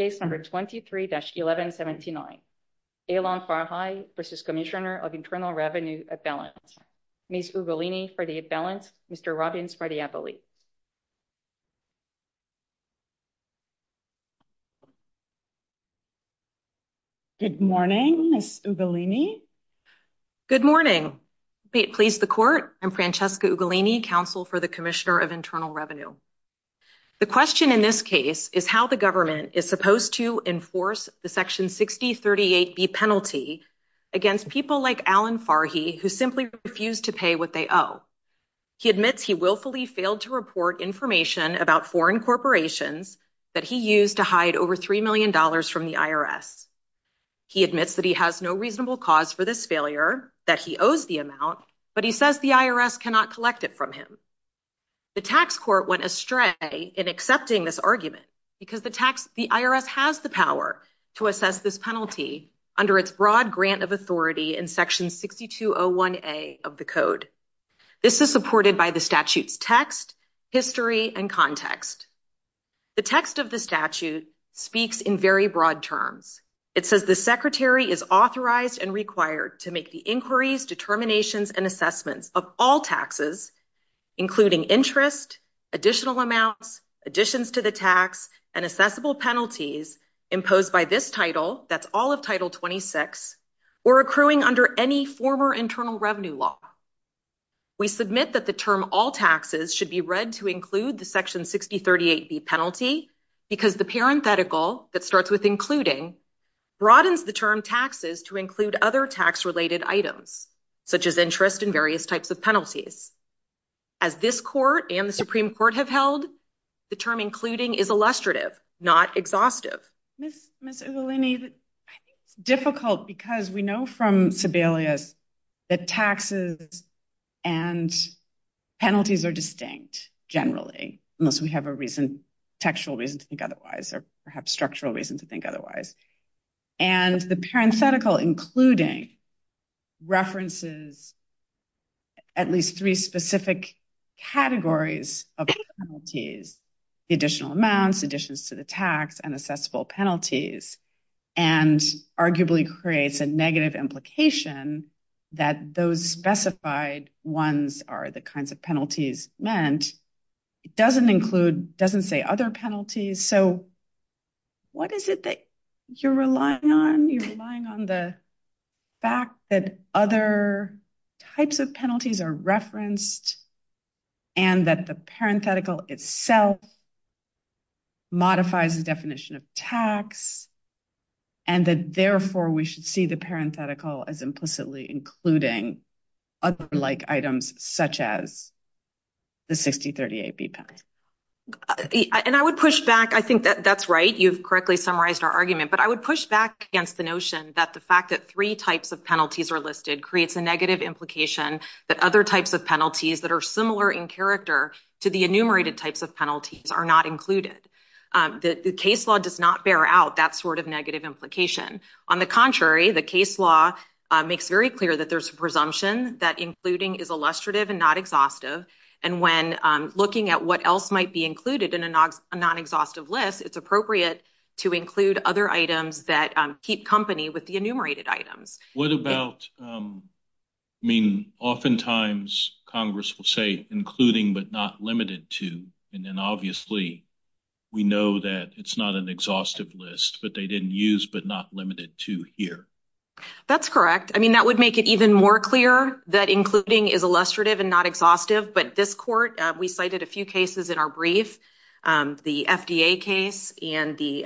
of Internal Revenue at Balance, Ms. Ugolini for the balance, Mr. Robbins for the appellate. Good morning, Ms. Ugolini. Good morning. Please the court, I'm Francesca Ugolini, counsel for the Commissioner of Internal Revenue. The question in this case is how the government is supposed to enforce the Section 6038B penalty against people like Alan Farhy who simply refused to pay what they owe. He admits he willfully failed to report information about foreign corporations that he used to hide over $3 million from the IRS. He admits that he has no reasonable cause for this failure, that he owes the amount, but he says the IRS cannot collect it from him. The tax court went astray in accepting this argument because the IRS has the power to assess this penalty under its broad grant of authority in Section 6201A of the code. This is supported by the statute text, history, and context. The text of the statute speaks in very broad terms. It says the secretary is authorized and required to make the inquiries, determinations, and assessments of all taxes, including interest, additional amounts, additions to the tax, and assessable penalties imposed by this title, that's all of Title 26, or accruing under any former internal revenue law. We submit that the term all taxes should be read to include the Section 6038B penalty because the parenthetical that starts with including broadens the term taxes to include other tax related items, such as interest in various types of penalties. As this court and the Supreme Court have held, the term including is illustrative, not exhaustive. Ms. Evelini, it's difficult because we know from Sebelius that taxes and penalties are distinct, generally, unless we have a reason, or perhaps structural reason to think otherwise. The parenthetical including references at least three specific categories of penalties, additional amounts, additions to the tax, and assessable penalties, and arguably creates a negative implication that those specified ones are the kinds of penalties meant. It doesn't include, doesn't say other penalties, so what is it that you're relying on? You're relying on the fact that other types of penalties are referenced, and that the parenthetical itself modifies the definition of tax, and that therefore we should see the parenthetical as implicitly including other like items, such as the 6038B penalty. And I would push back, I think that that's right, you've correctly summarized our argument, but I would push back against the notion that the fact that three types of penalties are listed creates a negative implication that other types of penalties that are similar in character to the enumerated types of penalties are not included. The case law does not bear out that sort of negative implication. On the contrary, the case law makes very clear that there's a presumption that including is illustrative and not exhaustive, and when looking at what else might be included in a non-exhaustive list, it's appropriate to include other items that keep company with the enumerated items. What about, I mean oftentimes Congress will say including but not limited to, and then obviously we know that it's not an I mean, that would make it even more clear that including is illustrative and not exhaustive, but this court, we cited a few cases in our brief, the FDA case and the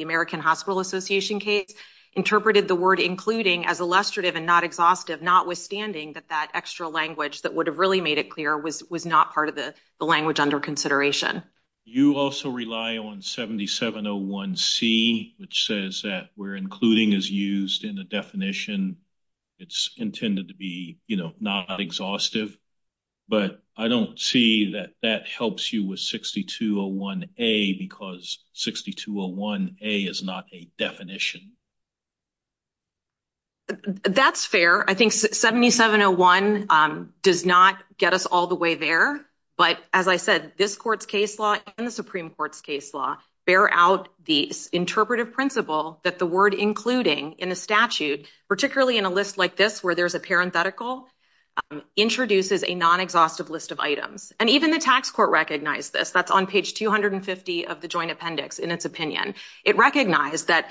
American Hospital Association case, interpreted the word including as illustrative and not exhaustive, notwithstanding that that extra language that would have really made it clear was not part of the language under consideration. You also rely on 7701C, which says that where including is used in the definition it's intended to be, you know, not exhaustive, but I don't see that that helps you with 6201A because 6201A is not a definition. That's fair. I think 7701 does not get us all the way there, but as I said, this court's case law and the Supreme Court's case law bear out the interpretive principle that the word including in a statute, particularly in a list like this where there's a parenthetical, introduces a non-exhaustive list of items, and even the tax court recognized this. That's on page 250 of the joint appendix in its opinion. It recognized that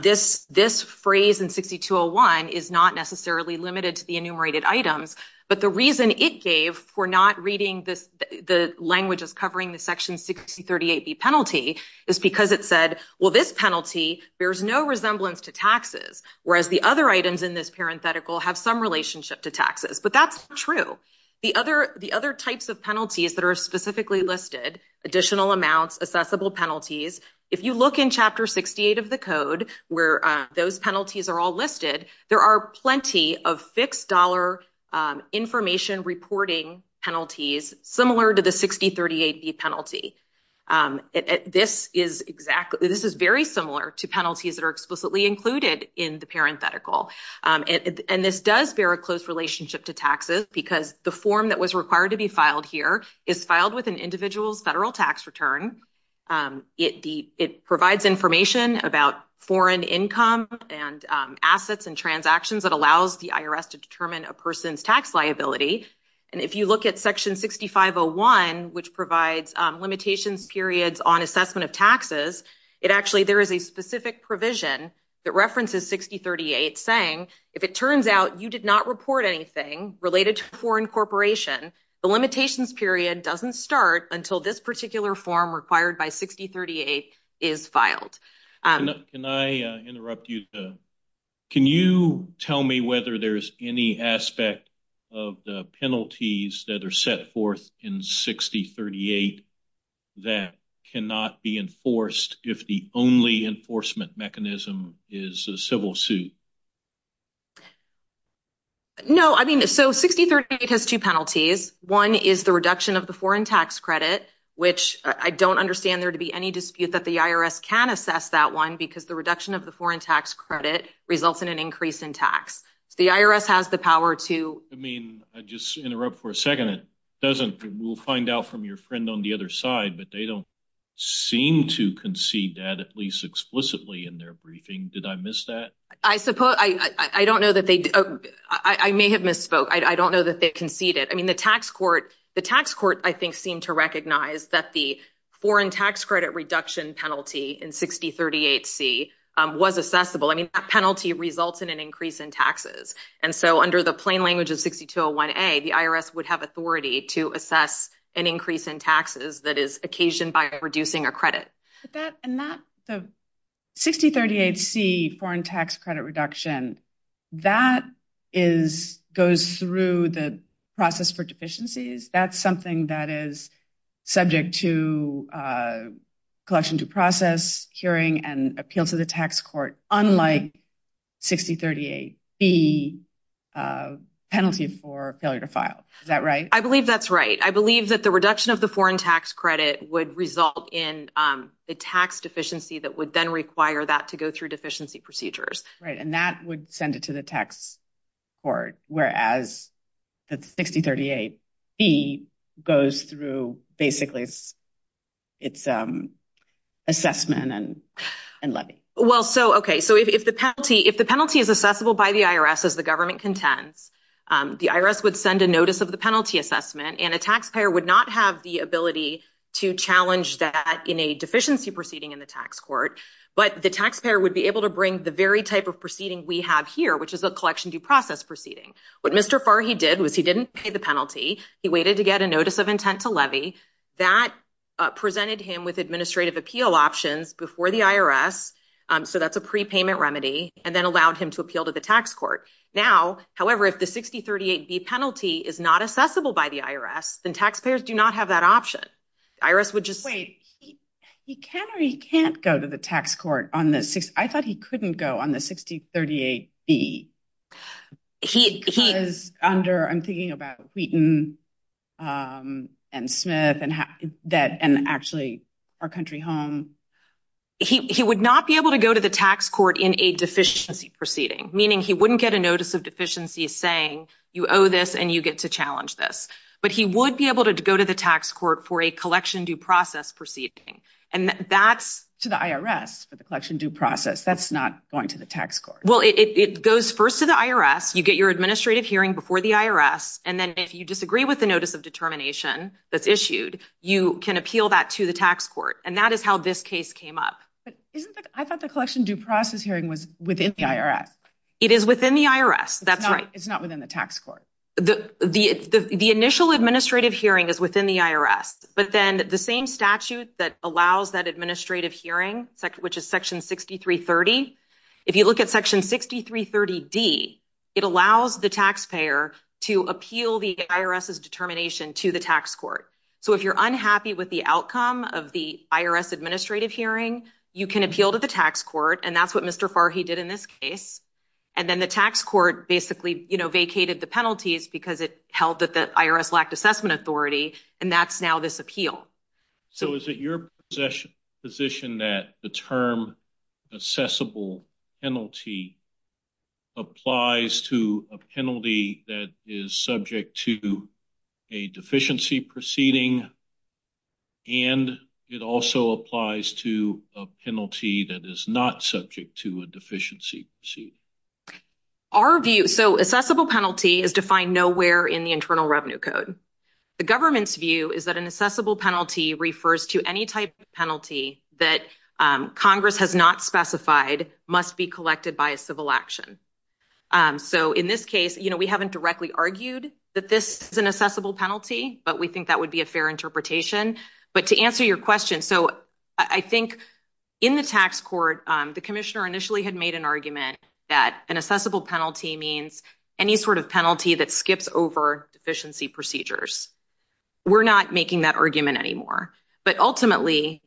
this phrase in 6201 is not necessarily limited to the enumerated items, but the reason it gave for not reading the languages covering the section 6038B penalty is because it said, well, this penalty bears no resemblance to taxes, whereas the other items in this parenthetical have some relationship to taxes, but that's true. The other types of penalties that are specifically listed, additional amounts, assessable penalties, if you look in chapter 68 of the code where those penalties are all listed, there are plenty of fixed dollar information reporting penalties similar to the 6038B penalty. This is exactly, this is very similar to penalties that are explicitly included in the parenthetical, and this does bear a close relationship to taxes because the form that was required to be filed here is filed with an individual's federal tax return. It provides information about foreign income and assets and transactions that allows the IRS to determine a person's tax liability, and if you look at section 6501, which provides limitations periods on assessment of taxes, it actually, there is a specific provision that references 6038 saying, if it turns out you did not report anything related to a foreign corporation, the limitations period doesn't start until this particular form required by 6038 is filed. Can I interrupt you? Can you tell me whether there's any aspect of the penalties that are set forth in 6038 that cannot be enforced if the only enforcement mechanism is a civil suit? No, I mean, so 6038 has two penalties. One is the reduction of the foreign tax credit, which I don't understand there to be any dispute that the IRS can assess that one because the reduction of the foreign tax credit results in an increase in tax. The IRS has the power to... I mean, I just interrupt for a second. It doesn't, we'll find out from your friend on the other side, but they don't seem to concede that, at least explicitly in their briefing. Did I miss that? I suppose you did. I don't know that they... I may have misspoke. I don't know that they conceded. I mean, the tax court, I think, seemed to recognize that the foreign tax credit reduction penalty in 6038C was assessable. I mean, that penalty results in an increase in taxes. And so under the plain language of 6201A, the IRS would have authority to assess an increase in taxes that is occasioned by reducing a credit. And that 6038C foreign tax credit reduction, that goes through the process for deficiencies. That's something that is subject to collection to process, hearing, and appeal to the tax court, unlike 6038B penalty for failure to file. Is that right? I believe that's right. I believe that the in the tax deficiency that would then require that to go through deficiency procedures. Right. And that would send it to the tax court, whereas the 6038B goes through basically its assessment and levy. Well, so, okay. So if the penalty is assessable by the IRS, as the government contends, the IRS would send a notice of the penalty assessment, and a taxpayer would not have the ability to challenge that in a deficiency proceeding in the tax court. But the taxpayer would be able to bring the very type of proceeding we have here, which is a collection due process proceeding. What Mr. Farr, he did was he didn't pay the penalty. He waited to get a notice of intent to levy. That presented him with administrative appeal options before the IRS. So that's a prepayment remedy, and then allowed him to appeal to the IRS. And taxpayers do not have that option. The IRS would just- Wait. He can or he can't go to the tax court on the 60... I thought he couldn't go on the 6038B. I'm thinking about Wheaton and Smith and actually our country home. He would not be able to go to the tax court in a deficiency proceeding, meaning he wouldn't get a to the IRS for the collection due process. That's not going to the tax court. Well, it goes first to the IRS. You get your administrative hearing before the IRS, and then if you disagree with the notice of determination that's issued, you can appeal that to the tax court. And that is how this case came up. But I thought the collection due process hearing was within the IRS. It is within the IRS. That's right. It's not within the tax court. The initial administrative hearing is within the IRS, but then the same statute that allows that administrative hearing, which is Section 6330, if you look at Section 6330D, it allows the taxpayer to appeal the IRS's determination to the tax court. So if you're unhappy with the outcome of the IRS administrative hearing, you can appeal to the tax court, and that's what Mr. Farhi did in this case. And then the tax court basically vacated the penalties because it held that the IRS lacked assessment authority, and that's now this appeal. So is it your position that the term accessible penalty applies to a penalty that is subject to a deficiency proceeding, and it also applies to a penalty that is not subject to a deficiency? Our view, so accessible penalty is defined nowhere in the Internal Revenue Code. The government's view is that an accessible penalty refers to any type of penalty that Congress has not specified must be collected by a civil action. So in this case, you know, we haven't directly argued that this is an accessible penalty, but we think that would be a fair interpretation. But to answer your question, so I think in the tax court, the commissioner initially had made an argument that an accessible penalty means any sort of penalty that skips over deficiency procedures. We're not making that argument anymore. But ultimately,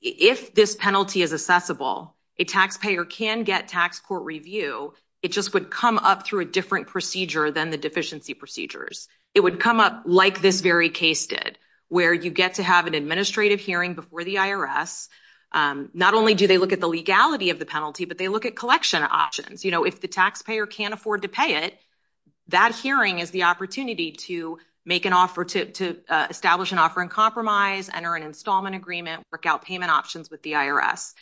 if this penalty is accessible, a taxpayer can get tax court review. It just would come up through a procedure than the deficiency procedures. It would come up like this very case did, where you get to have an administrative hearing before the IRS. Not only do they look at the legality of the penalty, but they look at collection options. You know, if the taxpayer can't afford to pay it, that hearing is the opportunity to make an offer to establish an offer in compromise, enter an installment agreement, work out payment options with the IRS.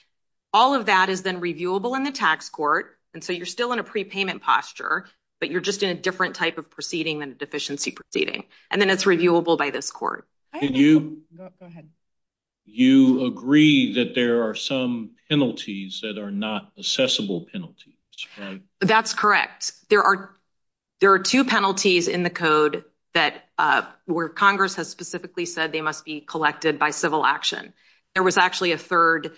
All of that is then reviewable in the tax court, and so you're still in a prepayment posture, but you're just in a different type of proceeding than the deficiency proceeding. And then it's reviewable by this court. Go ahead. You agree that there are some penalties that are not accessible penalties, right? That's correct. There are two penalties in the code where Congress has specifically said they must be collected by civil action. There was actually a third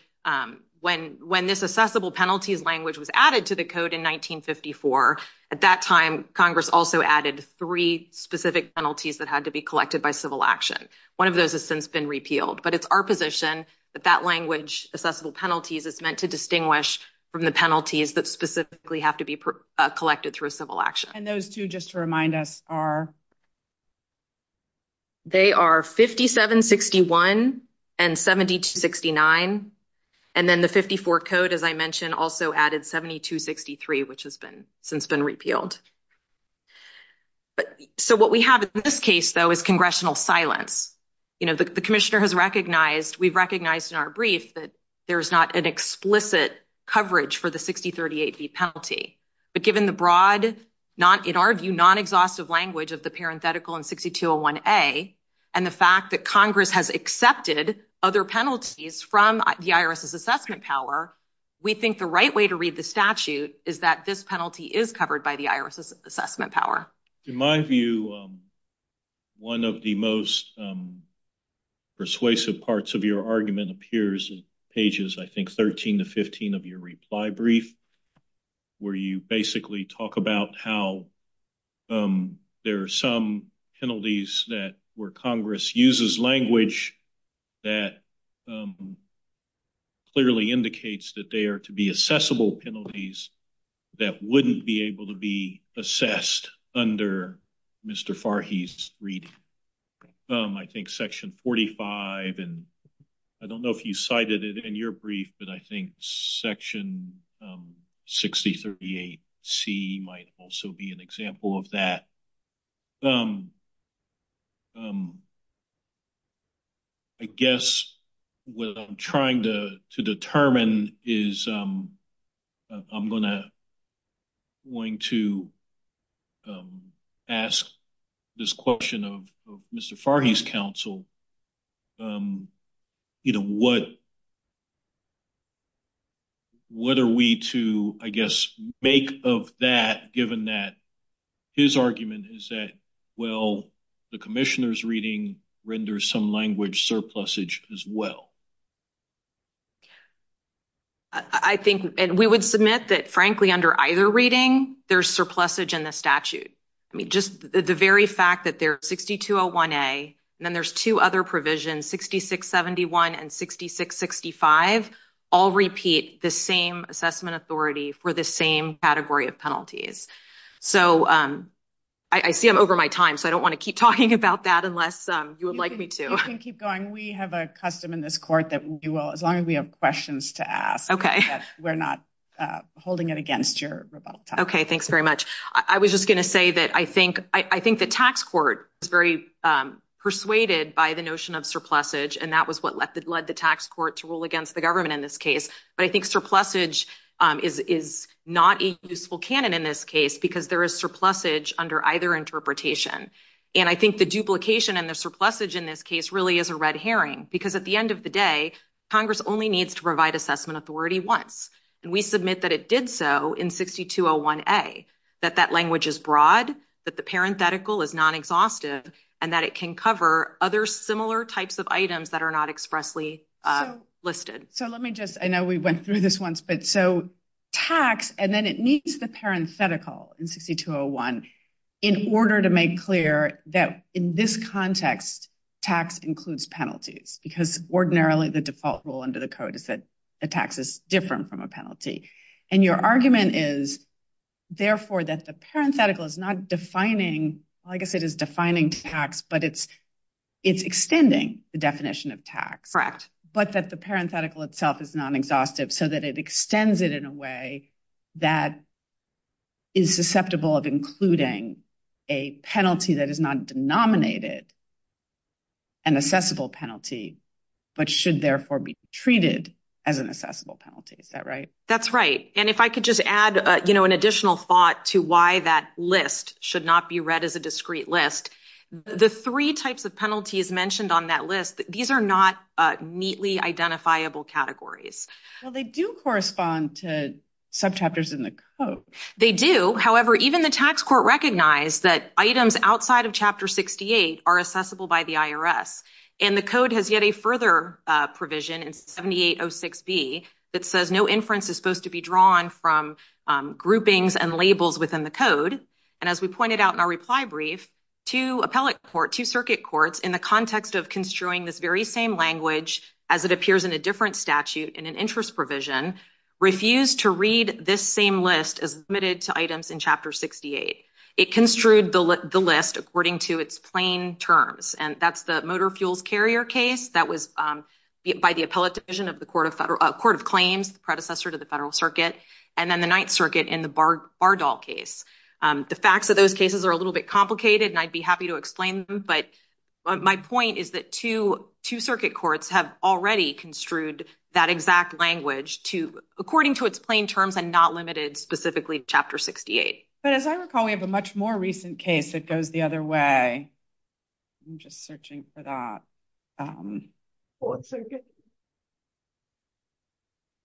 when this accessible penalties language was added to the code in 1954. At that time, Congress also added three specific penalties that had to be collected by civil action. One of those has since been repealed, but it's our position that that language, accessible penalties, is meant to distinguish from the penalties that specifically have to be collected through civil action. And those two, just to remind us, are? They are 5761 and 7269, and then the 54 code, as I mentioned, also added 7263, which has been since been repealed. So what we have in this case, though, is congressional silence. You know, the commissioner has recognized, we've recognized in our brief that there's not an explicit coverage for the 6038B penalty, but given the broad, in our view, non-exhaustive language of the parenthetical in 6201A and the fact that Congress has accepted other penalties from the IRS's assessment power, we think the right way to read the statute is that this penalty is covered by the IRS's assessment power. In my view, one of the most persuasive parts of your argument appears in pages, I think, there are some penalties that where Congress uses language that clearly indicates that they are to be accessible penalties that wouldn't be able to be assessed under Mr. Farhi's brief. I think section 45, and I don't know if you cited it in your brief, but I think section 6038C might also be an example of that. I guess what I'm trying to determine is I'm going to ask this question of Mr. Farhi's counsel, you know, what are we to, I guess, make of that given that his argument is that, well, the commissioner's reading renders some language surplusage as well. I think, and we would submit that, frankly, under either reading, there's surplusage in the statute. I mean, just the very fact that there's 6201A and then there's two other provisions, 6671 and 6665, all repeat the same assessment authority for the same category of penalties. So, I see I'm over my time, so I don't want to keep talking about that unless you would like me to. You can keep going. We have a custom in this court that we will, as long as we have questions to ask, we're not holding it against your rebuttal. Okay, thanks very much. I was just going to say that I think the tax court is very persuaded by the notion of surplusage and that was what led the tax court to rule against the government in this case. But I think surplusage is not a useful canon in this case because there is surplusage under either interpretation. And I think the duplication and the surplusage in this case really is a red herring because at the end of the day, Congress only needs to provide assessment authority once. And we submit that it did so in 6201A, that that language is broad, that the parenthetical is non-exhaustive, and that it can cover other similar types of items that are not expressly listed. So, let me just, I know we went through this once, but so tax, and then it needs the parenthetical in 6201 in order to make clear that in this context, tax includes penalties because ordinarily the default rule under the code is that the tax is different from a penalty. And your argument is therefore that the parenthetical is not defining, like I said, is defining tax, but it's extending the definition of tax. Correct. But that the parenthetical itself is non-exhaustive so that it extends it in a way that is susceptible of including a penalty that is not denominated an assessable penalty, but should therefore be treated as an assessable penalty. Is that right? That's right. And if I could just add, you know, an additional thought to why that list should not be read as a discrete list, the three types of penalties mentioned on that list, these are not neatly identifiable categories. So, they do correspond to subchapters in the code. They do. However, even the tax court recognized that items outside of Chapter 68 are assessable by the IRS. And the code has yet a further provision in 7806B that says no inference is supposed to be drawn from groupings and labels within the code. And as we pointed out in our reply brief, two appellate court, two circuit courts, in the context of construing this very same language as it appears in a different statute in an interest provision, refused to read this same list as admitted to items in Chapter 68. It construed the list according to its plain terms. And that's the motor fuels carrier case that was by the appellate division of the Court of Claims, predecessor to the Federal Circuit, and then the Ninth Circuit in the Bardol case. The facts of those cases are a little bit complicated, and I'd be happy to explain them, but my point is that two circuit courts have already construed that exact language to, according to its plain terms and not limited specifically to Chapter 68. But as I recall, we have a much more recent case that goes the other way. I'm just searching for that.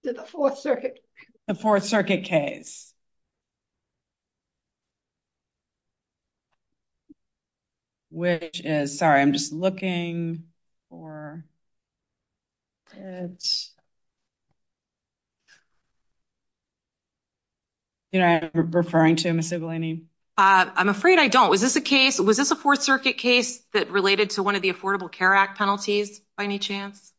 The Fourth Circuit case. Which is, sorry, I'm just looking for, you know, I'm referring to, Ms. Delaney. I'm afraid I don't. Was this a case, was this a Fourth Circuit case that related to one of the Affordable Care Act penalties, by any chance?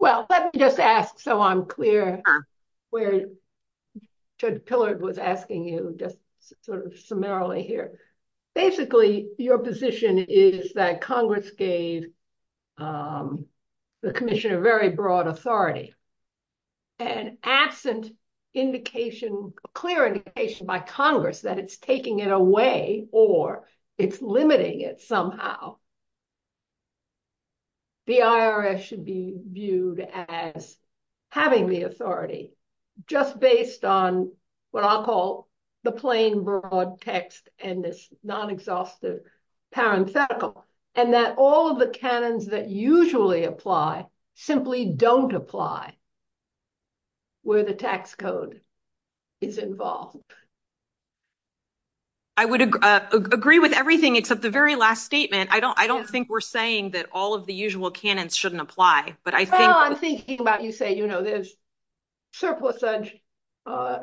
Well, let me just ask so I'm clear where Judge Pillard was asking you, just sort of summarily here. Basically, your position is that Congress gave the Commission a very broad authority and absent indication, clear indication by Congress that it's taking it away or it's limiting it somehow. The IRS should be viewed as having the authority, just based on what I'll call the plain broad text and this non-exhaustive parenthetical, and that all of the canons that apply where the tax code is involved. I would agree with everything except the very last statement. I don't think we're saying that all of the usual canons shouldn't apply. Well, I'm thinking about you say, you know, there's surplus,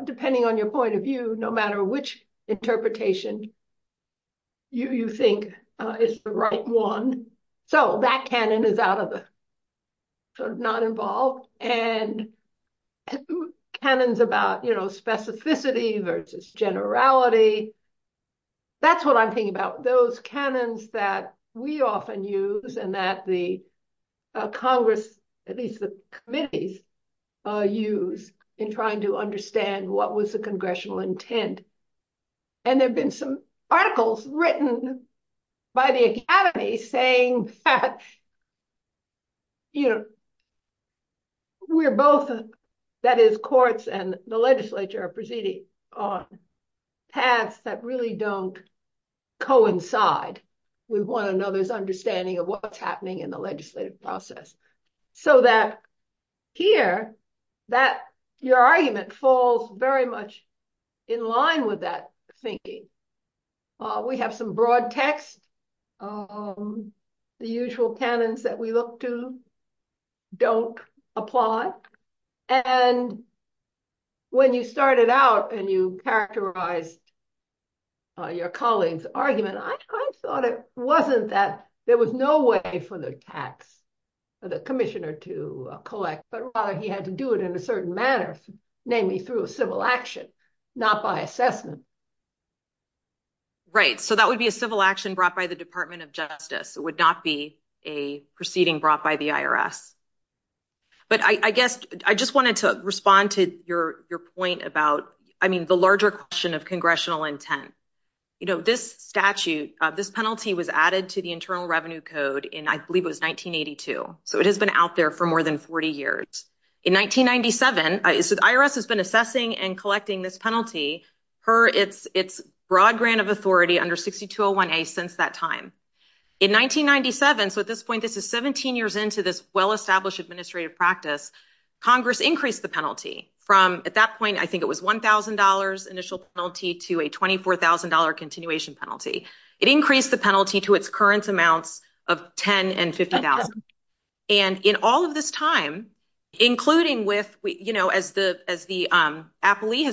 depending on your point of view, no matter which interpretation you think is the right one. So that canon is out of the sort of non-involved and canons about, you know, specificity versus generality. That's what I'm thinking about, those canons that we often use and that the Congress, at least the committees, use in trying to understand what was the Congressional intent. And there've been some articles written by the academy saying that, you know, we're both, that is courts and the legislature are proceeding on paths that really don't coincide with one another's understanding of what's happening in the legislative process. So that here, that, your argument falls very much in line with that thinking. We have some broad text. The usual canons that we look to don't apply. And when you started out and you characterized your colleagues' argument, I kind of thought it was no way for the tax, for the commissioner to collect, but rather he had to do it in a certain manner, mainly through a civil action, not by assessment. Right. So that would be a civil action brought by the Department of Justice. It would not be a proceeding brought by the IRS. But I guess I just wanted to respond to your point about, I mean, the larger question of in, I believe it was 1982, so it has been out there for more than 40 years. In 1997, so the IRS has been assessing and collecting this penalty per its broad grant of authority under 6201A since that time. In 1997, so at this point, this is 17 years into this well-established administrative practice, Congress increased the penalty from, at that point, I think it was $1,000 initial penalty to a $24,000 continuation penalty. It increased the penalty to its current amounts of $10 and $50. And in all of this time, including with, as Farhi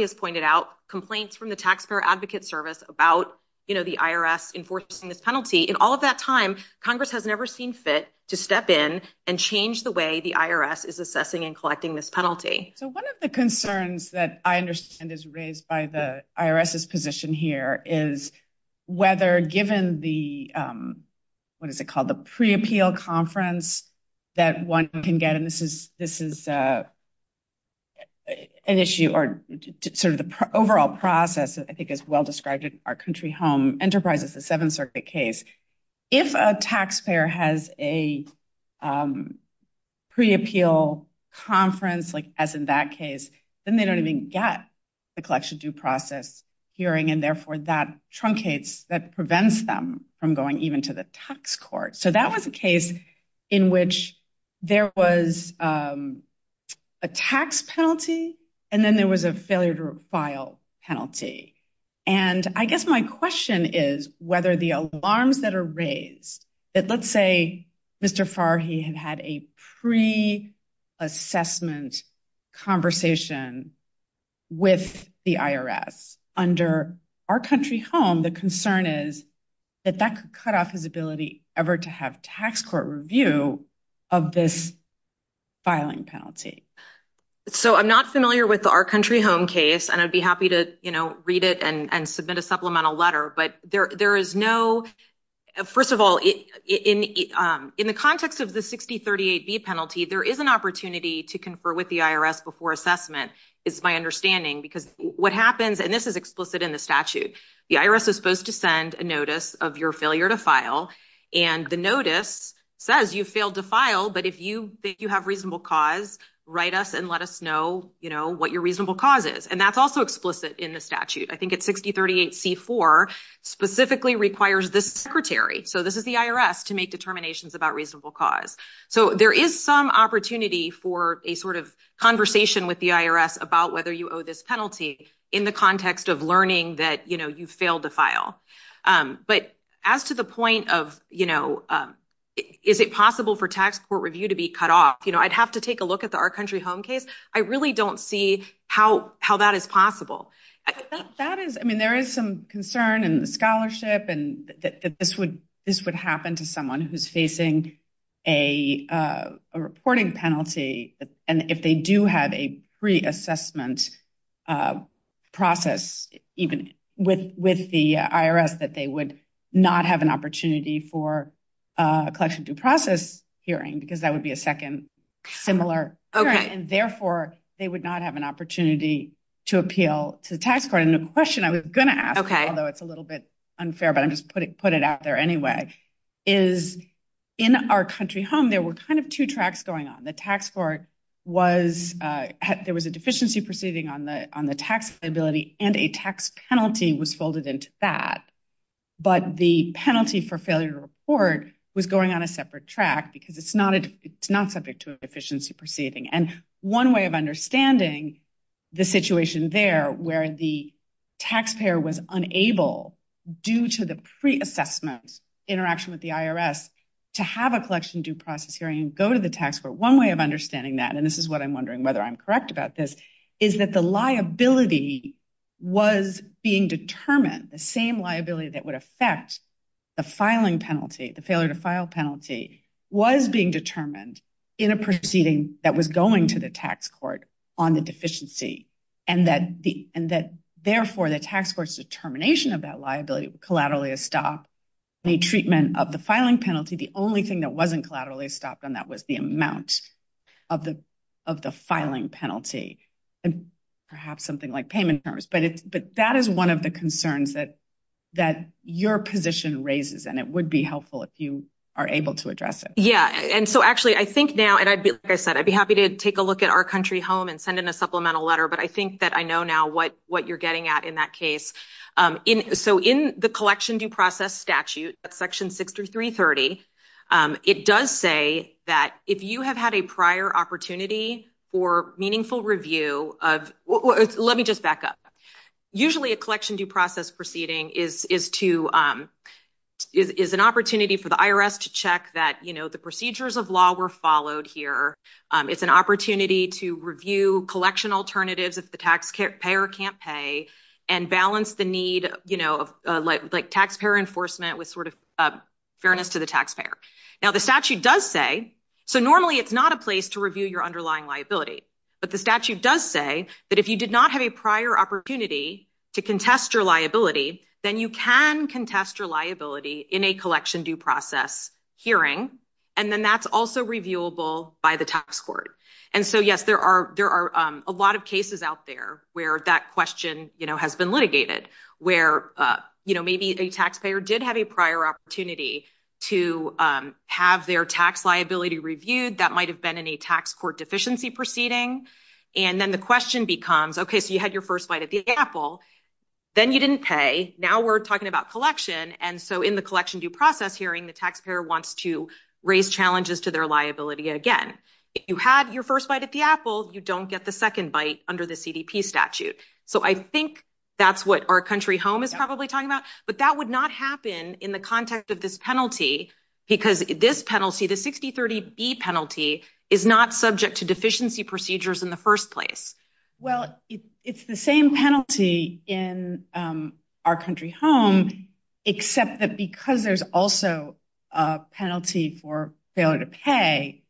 has pointed out, complaints from the Taxpayer Advocate Service about the IRS enforcing this penalty, in all of that time, Congress has never seen fit to step in and change the way the IRS is assessing and collecting this penalty. So one of the concerns that I understand is raised by the IRS's position here is whether, given the, what is it called, the pre-appeal conference that one can get, and this is an issue, or sort of the overall process, I think is well described in our country home enterprise. It's a Seventh Circuit case. If a taxpayer has a pre-appeal conference, like as in that case, then they don't even get the collection due process hearing, and therefore, that truncates, that prevents them from going even to the tax court. So that was a case in which there was a tax penalty, and then there was a failure to file penalty. And I guess my question is whether the alarms that are raised, that let's say Mr. Farhi had had a pre-assessment conversation with the IRS, under our country home, the concern is that that could cut off his ability ever to have tax court review of this filing penalty. So I'm not familiar with our country home case, and I'd be happy to read it and submit a supplemental letter, but there is no, first of all, in the context of the 6038B penalty, there is an opportunity to confer with the IRS before assessment, is my understanding, because what happens, and this is explicit in the statute, the IRS is supposed to send a notice of your failure to file, and the notice says you failed to file, but if you think you have a reasonable cause, write us and let us know what your reasonable cause is. And that's also explicit in the statute. I think it's 6038C4 specifically requires this secretary, so this is the IRS, to make determinations about reasonable cause. So there is some opportunity for a sort of conversation with the IRS about whether you owe this penalty in the context of learning that you've failed to file. But as to the point of is it possible for tax court review to be cut off, I'd have to take a look at the our country home case. I really don't see how that is possible. That is, I mean, there is some concern in the scholarship that this would happen to someone who's facing a reporting penalty, and if they do have a pre-assessment process, even with the IRS, that they would not have an opportunity for a collection due process hearing, because that would be a second similar. And therefore, they would not have an opportunity to appeal to the tax court. And the question I was going to ask, although it's a little bit unfair, but I'm just put it out there anyway, is in our country home, there were kind of two tracks going on. The tax court was, there was a deficiency proceeding on the tax liability, and a tax penalty was folded into that. But the penalty for failure to report was going on a separate track, because it's not subject to a deficiency proceeding. And one way of understanding the situation there, where the taxpayer was unable, due to the pre-assessment interaction with the IRS, to have a collection due process hearing and go to the tax court, one way of understanding that, and this is what I'm was being determined, the same liability that would affect the filing penalty, the failure to file penalty, was being determined in a proceeding that was going to the tax court on the deficiency. And that therefore, the tax court's determination of that liability collaterally stopped the treatment of the filing penalty. The only thing that wasn't collaterally stopped on that was the amount of the filing penalty, and perhaps something like payment terms. But that is one of the concerns that your position raises, and it would be helpful if you are able to address it. Yeah, and so actually, I think now, and like I said, I'd be happy to take a look at our country home and send in a supplemental letter, but I think that I know now what you're getting at in that case. So in the collection due process statute, section 6 through 330, it does say that if you have had a prior opportunity for meaningful review of, let me just back up, usually a collection due process proceeding is to, is an opportunity for the IRS to check that, you know, the procedures of law were followed here. It's an opportunity to review collection alternatives if the taxpayer can't pay, and balance the need, you know, like taxpayer enforcement with sort of fairness to the taxpayer. Now the statute does say, so normally it's not a place to review your underlying liability, but the statute does say that if you did not have a prior opportunity to contest your liability, then you can contest your liability in a collection due process hearing, and then that's also reviewable by the tax court. And so yes, there are, there are a lot of cases out there where that question, you know, has been litigated, where, you know, maybe a taxpayer did have a prior opportunity to have their tax liability reviewed, that might have been in a tax court deficiency proceeding, and then the question becomes, okay, so you had your first bite at the apple, then you didn't pay, now we're talking about collection, and so in the collection due process hearing, the taxpayer wants to raise challenges to their liability again. If you had your first bite at the apple, you don't get the second bite under the CDP statute. So I think that's what our country home is probably talking about, but that would not is not subject to deficiency procedures in the first place. Well, it's the same penalty in our country home, except that because there's also a penalty for failure to pay,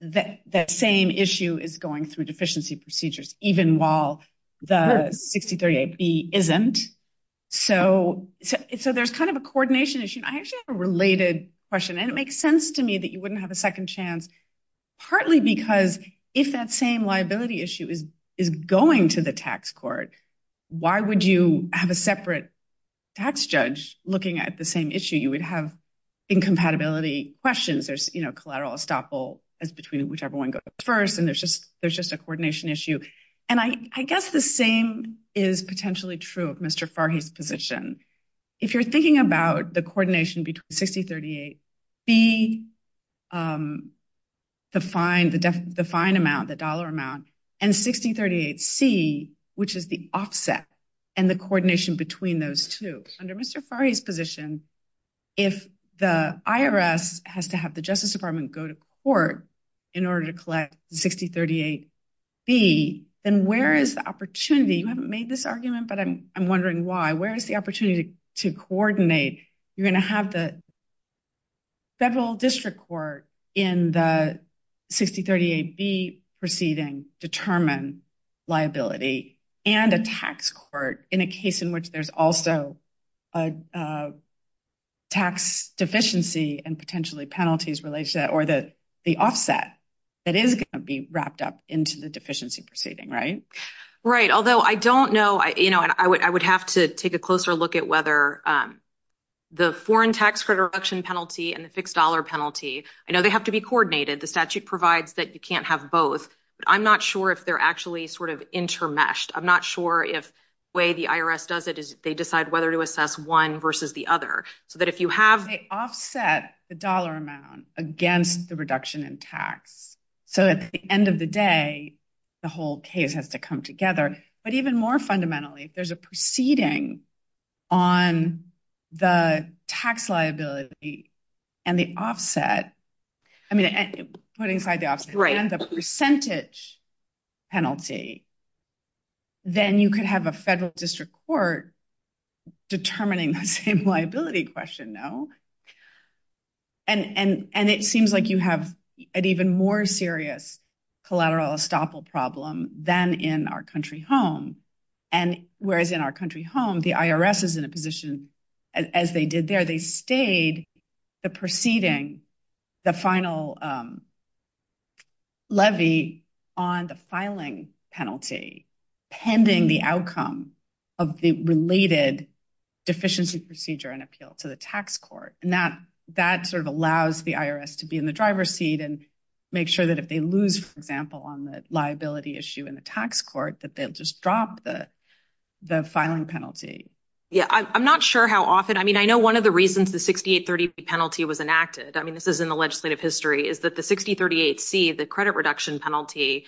that same issue is going through deficiency procedures, even while the 6038B isn't. So there's kind of a coordination issue. I actually have a related question, and it makes sense to you that you wouldn't have a second chance, partly because if that same liability issue is going to the tax court, why would you have a separate tax judge looking at the same issue? You would have incompatibility questions. There's, you know, collateral estoppel is between whichever one goes first, and there's just a coordination issue, and I guess the same is potentially true of Mr. Fari. So you're thinking about the coordination between 6038B, the fine amount, the dollar amount, and 6038C, which is the offset, and the coordination between those two. Under Mr. Fari's position, if the IRS has to have the Justice Department go to court in order to collect 6038B, then where is the opportunity? You haven't made this argument, but I'm wondering why. Where is the opportunity to coordinate? You're going to have the federal district court in the 6038B proceeding determine liability and a tax court in a case in which there's also a tax deficiency and potentially penalties related, or the offset that is going to be wrapped up into the deficiency proceeding, right? Right, although I don't know, you know, I would have to take a closer look at whether the foreign tax credit reduction penalty and the fixed dollar penalty, I know they have to be coordinated. The statute provides that you can't have both, but I'm not sure if they're actually sort of intermeshed. I'm not sure if the way the IRS does it is they decide whether to assess one versus the other, so that if you have... They offset the dollar amount against the reduction in tax, so at the end of the day, the whole case has to come together, but even more fundamentally, if there's a proceeding on the tax liability and the offset, I mean, putting side to side, the percentage penalty, then you could have a federal district court determining that same liability question, no? And it seems like you have an even more serious collateral estoppel problem than in our country home, and whereas in our country home, the IRS is in a position, as they did there, they stayed the proceeding, the final levy on the filing penalty pending the outcome of the related deficiency procedure and appeal to the tax court, and that sort of allows the IRS to be in the driver's seat and make sure that if they lose, for example, on the liability issue in the tax court, that they'll just drop the filing penalty. Yeah, I'm not sure how often... I mean, I know one of the reasons the 6830 penalty was enacted, I mean, this is in the legislative history, is that the 6038C, the credit reduction penalty,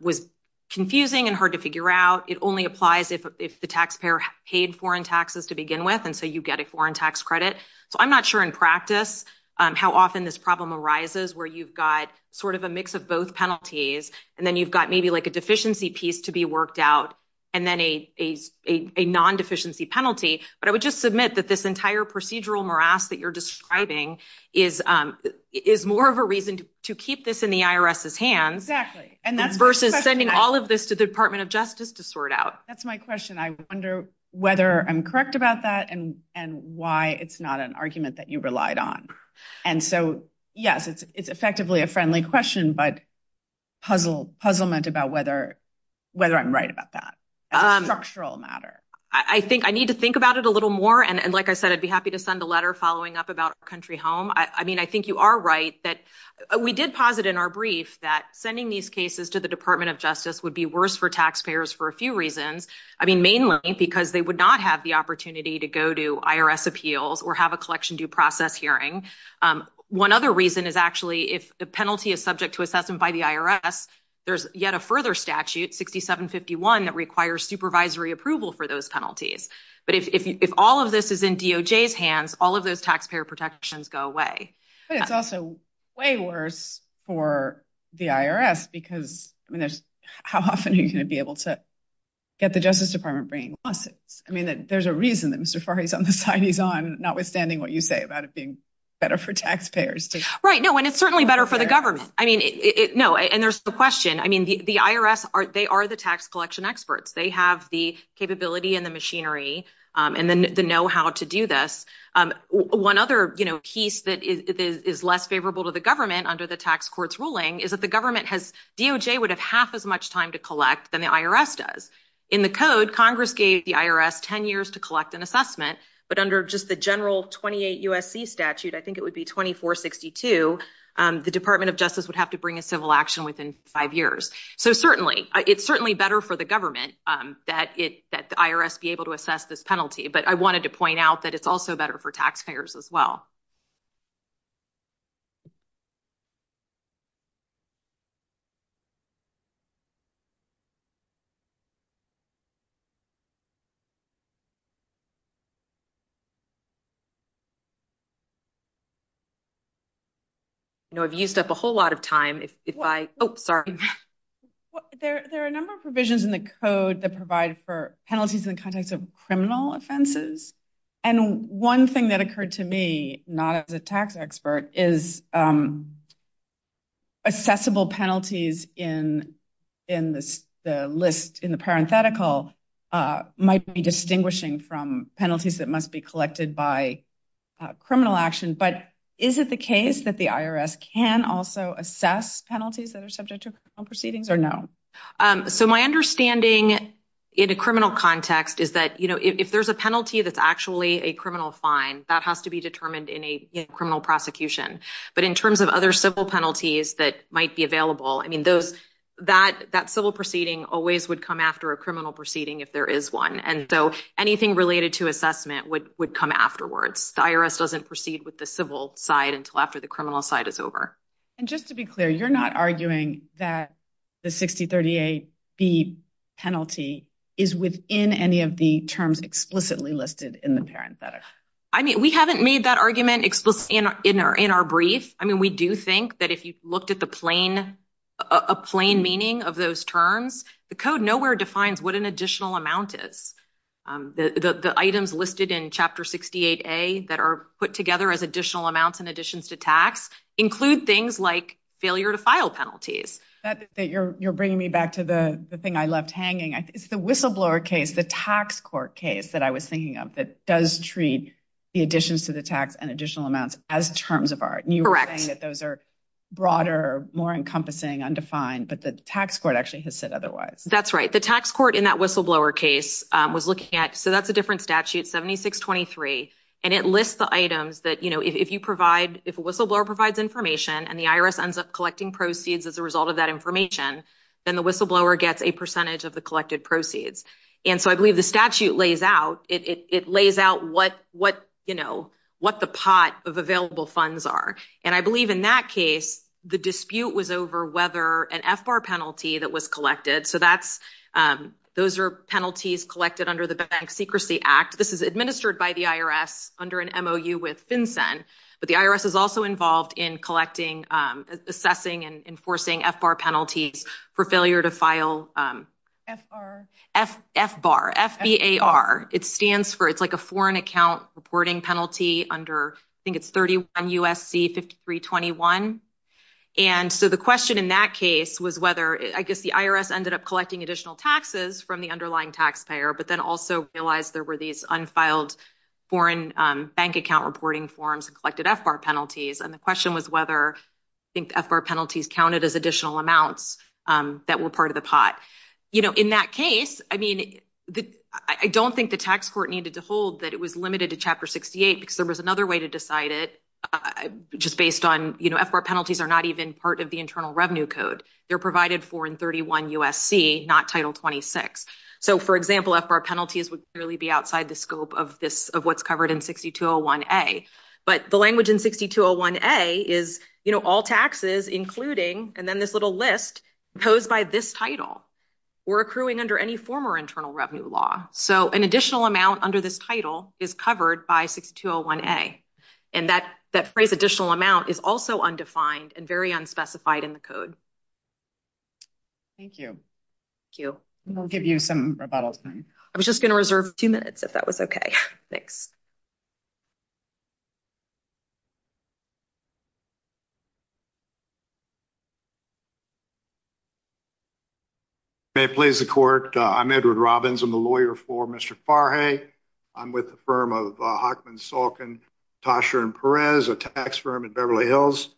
was confusing and hard to figure out. It only applies if the taxpayer paid foreign taxes to begin with, and so you get a foreign tax credit. So I'm not sure in practice how often this problem arises where you've got sort of a mix of both penalties, and then you've got maybe like a deficiency piece to be worked out and then a non-deficiency penalty, but I would just submit that this entire procedural morass that you're describing is more of a reason to keep this in the IRS's hands versus sending all of this to the Department of Justice to sort out. That's my question. I wonder whether I'm correct about that and why it's not an argument that you relied on. And so, yes, it's effectively a friendly question, but puzzlement about whether I'm right about that as a structural matter. I think I need to think about it a little more, and like I said, I'd be happy to send a letter following up about Country Home. I mean, I think you are right that we did posit in our brief that sending these cases to the Department of Justice would be worse for taxpayers for a few reasons. I mean, mainly because they would not have the opportunity to go to IRS appeals or have a collection due process hearing. One other reason is actually if the penalty is subject to assessment by the IRS, there's yet a further statute, 6751, that requires supervisory approval for those taxpayer protections go away. But it's also way worse for the IRS because, I mean, how often are you going to be able to get the Justice Department bringing lawsuits? I mean, there's a reason that Mr. Farhi's on the side he's on, notwithstanding what you say about it being better for taxpayers. Right. No, and it's certainly better for the government. I mean, no, and there's the question. I mean, the IRS, they are the tax collection experts. They have the capability and the machinery and the know-how to do this. One other piece that is less favorable to the government under the tax court's ruling is that the government has, DOJ would have half as much time to collect than the IRS does. In the code, Congress gave the IRS 10 years to collect an assessment. But under just the general 28 U.S.C. statute, I think it would be 2462, the Department of Justice would have to bring a civil action within five years. So certainly, it's certainly better for the government that the IRS be able to assess this penalty. But I wanted to point out that it's also better for taxpayers as well. You know, I've used up a whole lot of time. Oh, sorry. Well, there are a number of provisions in the code that provide for penalties in context of criminal offenses. And one thing that occurred to me, not as a tax expert, is accessible penalties in the list, in the parenthetical, might be distinguishing from penalties that must be collected by criminal action. But is it the case that the IRS can also assess penalties that are subject to criminal proceedings or no? So my understanding in a criminal context is that, you know, if there's a penalty that's actually a criminal fine, that has to be determined in a criminal prosecution. But in terms of other civil penalties that might be available, I mean, that civil proceeding always would come after a criminal proceeding if there is one. And so anything related to assessment would come afterwards. The IRS doesn't proceed with the civil side until after the criminal side is over. And just to be clear, you're not arguing that the 6038B penalty is within any of the terms explicitly listed in the parenthetical? I mean, we haven't made that argument in our brief. I mean, we do think that if you looked at the plain, a plain meaning of those terms, the code nowhere defines what an additional amount is. The items listed in Chapter 68A that are put together as additional amounts and additions to tax include things like failure to file penalties. You're bringing me back to the thing I left hanging. It's the whistleblower case, the tax court case that I was thinking of that does treat the additions to the tax and additional amounts as terms of art. And you were saying that those are broader, more encompassing, undefined, but the tax court actually has said otherwise. That's right. The tax court in that whistleblower case was looking at, so that's a different statute, 7623, and it lists the items that if you provide, if a whistleblower provides information and the IRS ends up collecting proceeds as a result of that information, then the whistleblower gets a percentage of the collected proceeds. And so I believe the statute lays out, it lays out what the pot of available funds are. And I believe in that case, the dispute was over whether an FBAR penalty that was collected, so that's, those are penalties collected under the Bank Secrecy Act. This is administered by the IRS under an MOU with FinCEN, but the IRS is also involved in collecting, assessing and enforcing FBAR penalties for failure to file. FBAR. FBAR, F-B-A-R. It stands for, it's like a foreign account reporting penalty under, I think it's 31 U.S.C. 5321. And so the question in that case was whether, I guess the IRS ended up collecting additional taxes from the underlying taxpayer, but then also realized there were these unfiled foreign bank account reporting forms and collected FBAR penalties. And the question was whether I think the FBAR penalties counted as additional amounts that were part of the pot. You know, in that case, I mean, I don't think the tax court needed to hold that it was limited to Chapter 68 because there was another way to decide it, just based on, you know, FBAR penalties are not even part of the Internal Revenue Code. They're provided for in 31 U.S.C., not Title 26. So, for example, FBAR penalties would clearly be outside the scope of this, of what's covered in 6201A. But the language in 6201A is, you know, all taxes, including, and then this little list, imposed by this title were accruing under any former Internal Revenue Law. So an additional amount under this title is covered by 6201A. And that, that phrase additional amount is also undefined and very unspecified in the code. Thank you. Thank you. We'll give you some rebuttal time. I was just going to reserve a few minutes, if that was okay. Thanks. May it please the court. I'm Edward Robbins. I'm the lawyer for Mr. Farhaey. I'm with the firm of Bachman, Salkin, Tasher & Perez, a tax firm in Beverly Hills.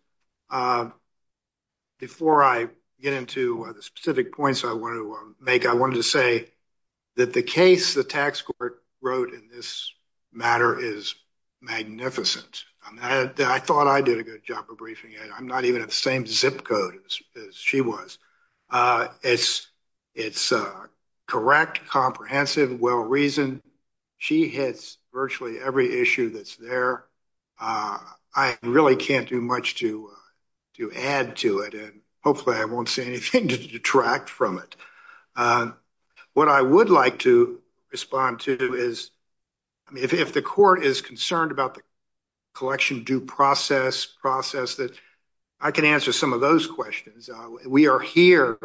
Before I get into one of the specific points I wanted to make, I wanted to say that the case the tax court wrote in this matter is magnificent. I thought I did a good job of briefing it. I'm not even at the same zip code as she was. It's correct, comprehensive, well-reasoned. She hits virtually every issue that's there. I really can't do much to add to it, and hopefully I won't see anything to detract from it. What I would like to respond to is, I mean, if the court is concerned about the process, I can answer some of those questions. We are here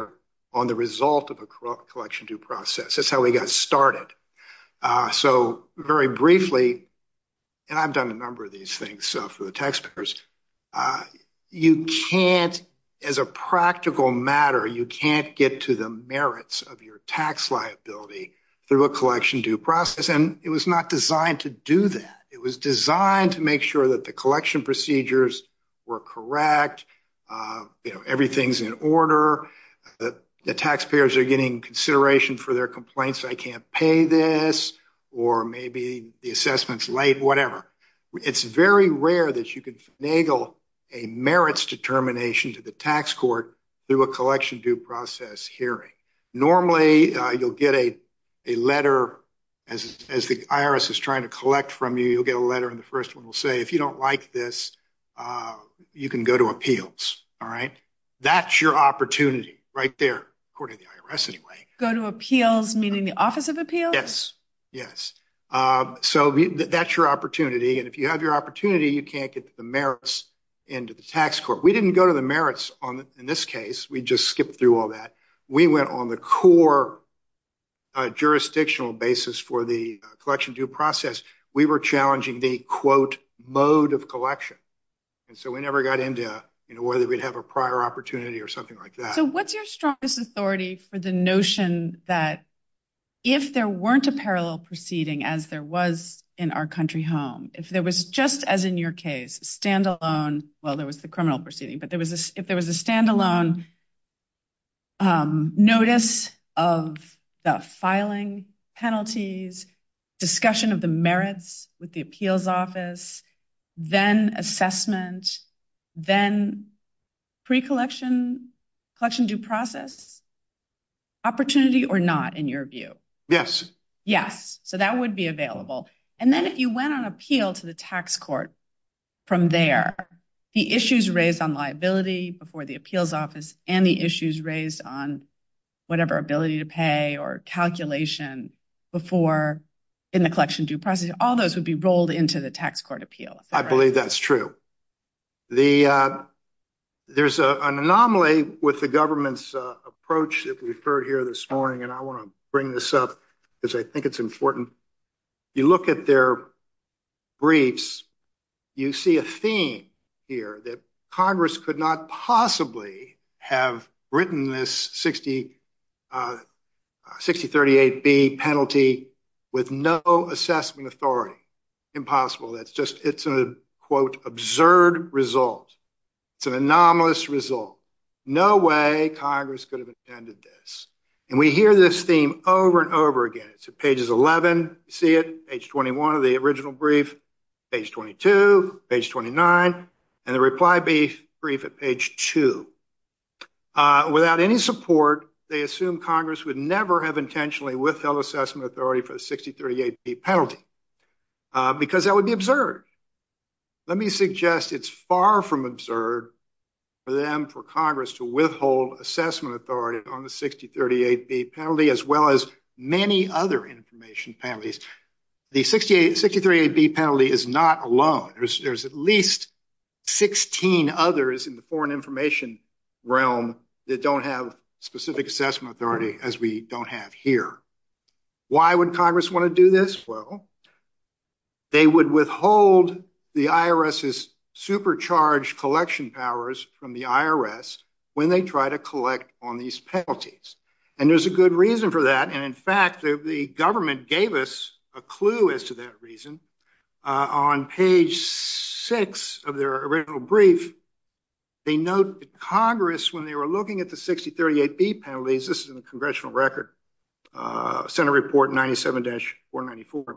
on the result of a collection due process. That's how we got started. Very briefly, and I've done a number of these things for the taxpayers, you can't, as a practical matter, you can't get to the merits of your tax liability through a collection due process. It was not designed to do that. It was designed to make sure that the collection procedures were correct, everything's in order, the taxpayers are getting consideration for their complaints, I can't pay this, or maybe the assessment's late, whatever. It's very rare that you can finagle a merits determination to the tax court through a collection due process hearing. Normally, you'll get a letter as the IRS is trying to collect from you. You'll get a letter, and the first one will say, if you don't like this, you can go to appeals. That's your opportunity right there, according to the IRS anyway. Go to appeals, meaning the Office of Appeals? Yes. That's your opportunity, and if you have your opportunity, you can't get the merits into the tax court. We didn't go to the merits in this case. We just skipped through all that. We went on the core jurisdictional basis for the collection due process. We were challenging the, quote, mode of collection, and so we never got into whether we'd have a prior opportunity or something like that. So what's your strongest authority for the notion that if there weren't a parallel proceeding as there was in our country home, if there was just as in your case, standalone, well, there was the criminal proceeding, but there the merits with the appeals office, then assessment, then pre-collection due process? Opportunity or not, in your view? Yes. Yes. So that would be available, and then if you went on appeal to the tax court from there, the issues raised on liability before the appeals office and issues raised on whatever ability to pay or calculation before in the collection due process, all those would be rolled into the tax court appeal. I believe that's true. There's an anomaly with the government's approach that we've heard here this morning, and I want to bring this up because I think it's important. You look at their briefs, you see a theme here that Congress could not possibly have written this 6038B penalty with no assessment authority. Impossible. It's an, quote, absurd result. It's an anomalous result. No way Congress could have attended this, and we hear this theme over and over again. It's at pages 11, see it, page 21 of the original brief, page 22, page 29, and the reply brief at page 2. Without any support, they assume Congress would never have intentionally withheld assessment authority for the 6038B penalty because that would be absurd. Let me suggest it's far from absurd for them, for Congress to withhold assessment authority on the 6038B penalty as well as any other information penalties. The 6038B penalty is not alone. There's at least 16 others in the foreign information realm that don't have specific assessment authority as we don't have here. Why would Congress want to do this? Well, they would withhold the IRS's supercharged collection powers from the IRS when they try to collect on these penalties, and there's a good reason for that, and in fact, the government gave us a clue as to that reason. On page 6 of their original brief, they note that Congress, when they were looking at the 6038B penalties, this is in the congressional record, Senate Report 97-494,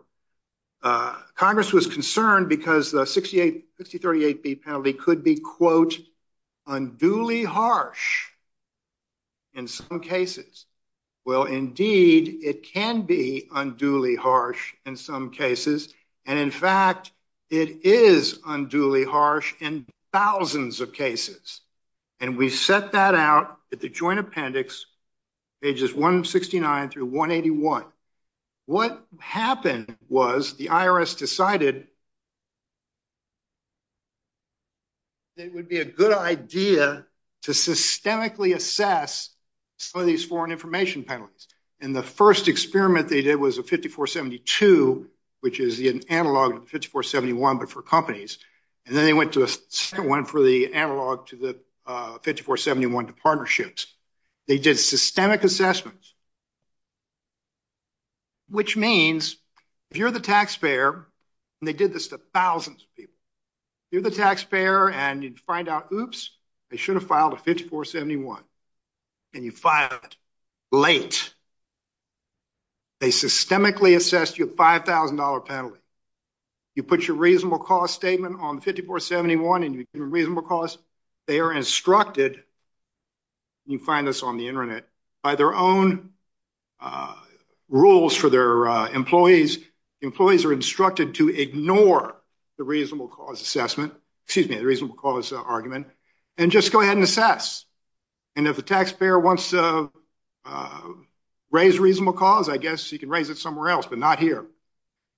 Congress was concerned because the 6038B penalty could be, quote, unduly harsh in some cases. Well, indeed, it can be unduly harsh in some cases, and in fact, it is unduly harsh in thousands of cases, and we set that out at the Joint Appendix pages 169 through 181. What happened was the IRS decided it would be a good idea to systemically assess some of these foreign information penalties, and the first experiment they did was a 5472, which is an analog of 5471 but for companies, and then they went to a second one for the analog to partnerships. They did systemic assessments, which means if you're the taxpayer, and they did this to thousands of people, you're the taxpayer, and you'd find out, oops, they should have filed a 5471, and you filed it late. They systemically assessed your $5,000 penalty. You put your reasonable cost statement on 5471 and your reasonable cost. They are instructed, you find this on the internet, by their own rules for their employees. Employees are instructed to ignore the reasonable cause assessment, excuse me, the reasonable cause argument, and just go ahead and assess, and if the taxpayer wants to raise reasonable cause, I guess you can raise it somewhere else, but not here.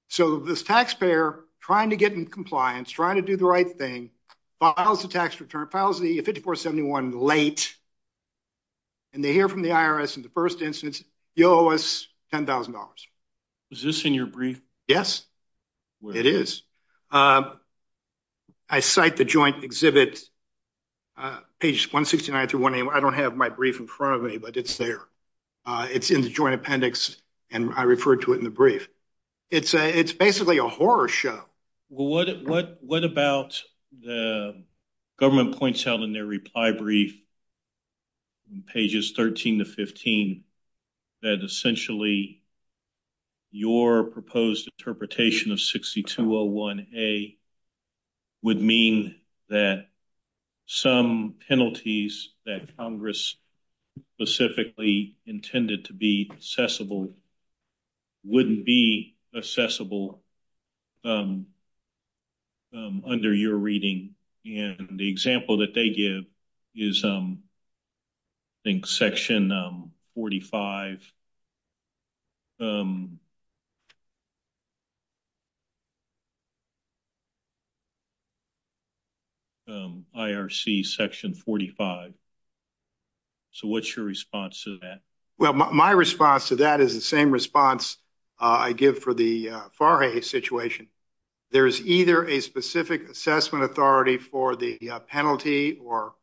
So this taxpayer, trying to get in compliance, trying to do the right thing, files the tax return, files the 5471 late, and they hear from the IRS in the first instance, you owe us $10,000. Is this in your brief? Yes, it is. I cite the joint exhibit, page 169 to 180. I don't have my brief in front of me, but it's there. It's in the joint appendix, and I refer to it in the brief. It's basically a horror show. Well, what about the government points out in their reply brief in pages 13 to 15 that essentially your proposed interpretation of 6201A would mean that some penalties that Congress specifically intended to be assessable wouldn't be assessable under your reading, and the example that they give is, I think, section 45, IRC section 45. So what's your response to that? Well, my response to that is the same response I give for the FAR A situation. There's either a specific assessment authority for the penalty or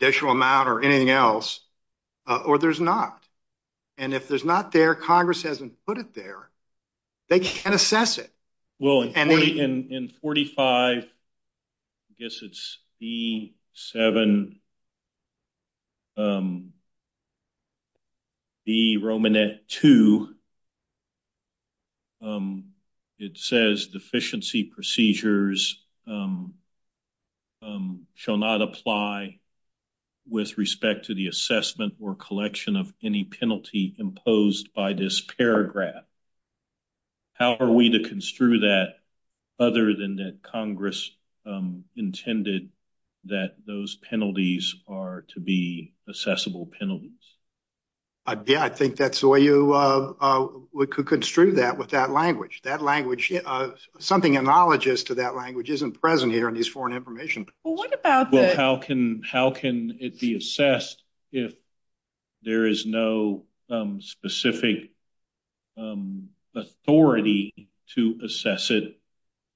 additional amount or anything else, or there's not, and I don't have my brief in front of me. If there's not there, Congress hasn't put it there. They just can't assess it. Well, in 45, I guess it's B7, B Romanet 2, it says deficiency procedures shall not apply with respect to the assessment or collection of any penalty imposed by this paragraph. How are we to construe that other than that Congress intended that those penalties are to be assessable penalties? Yeah, I think that's the way you construe that with that language. Something analogous to that language isn't present here is foreign information. How can it be assessed if there is no specific authority to assess it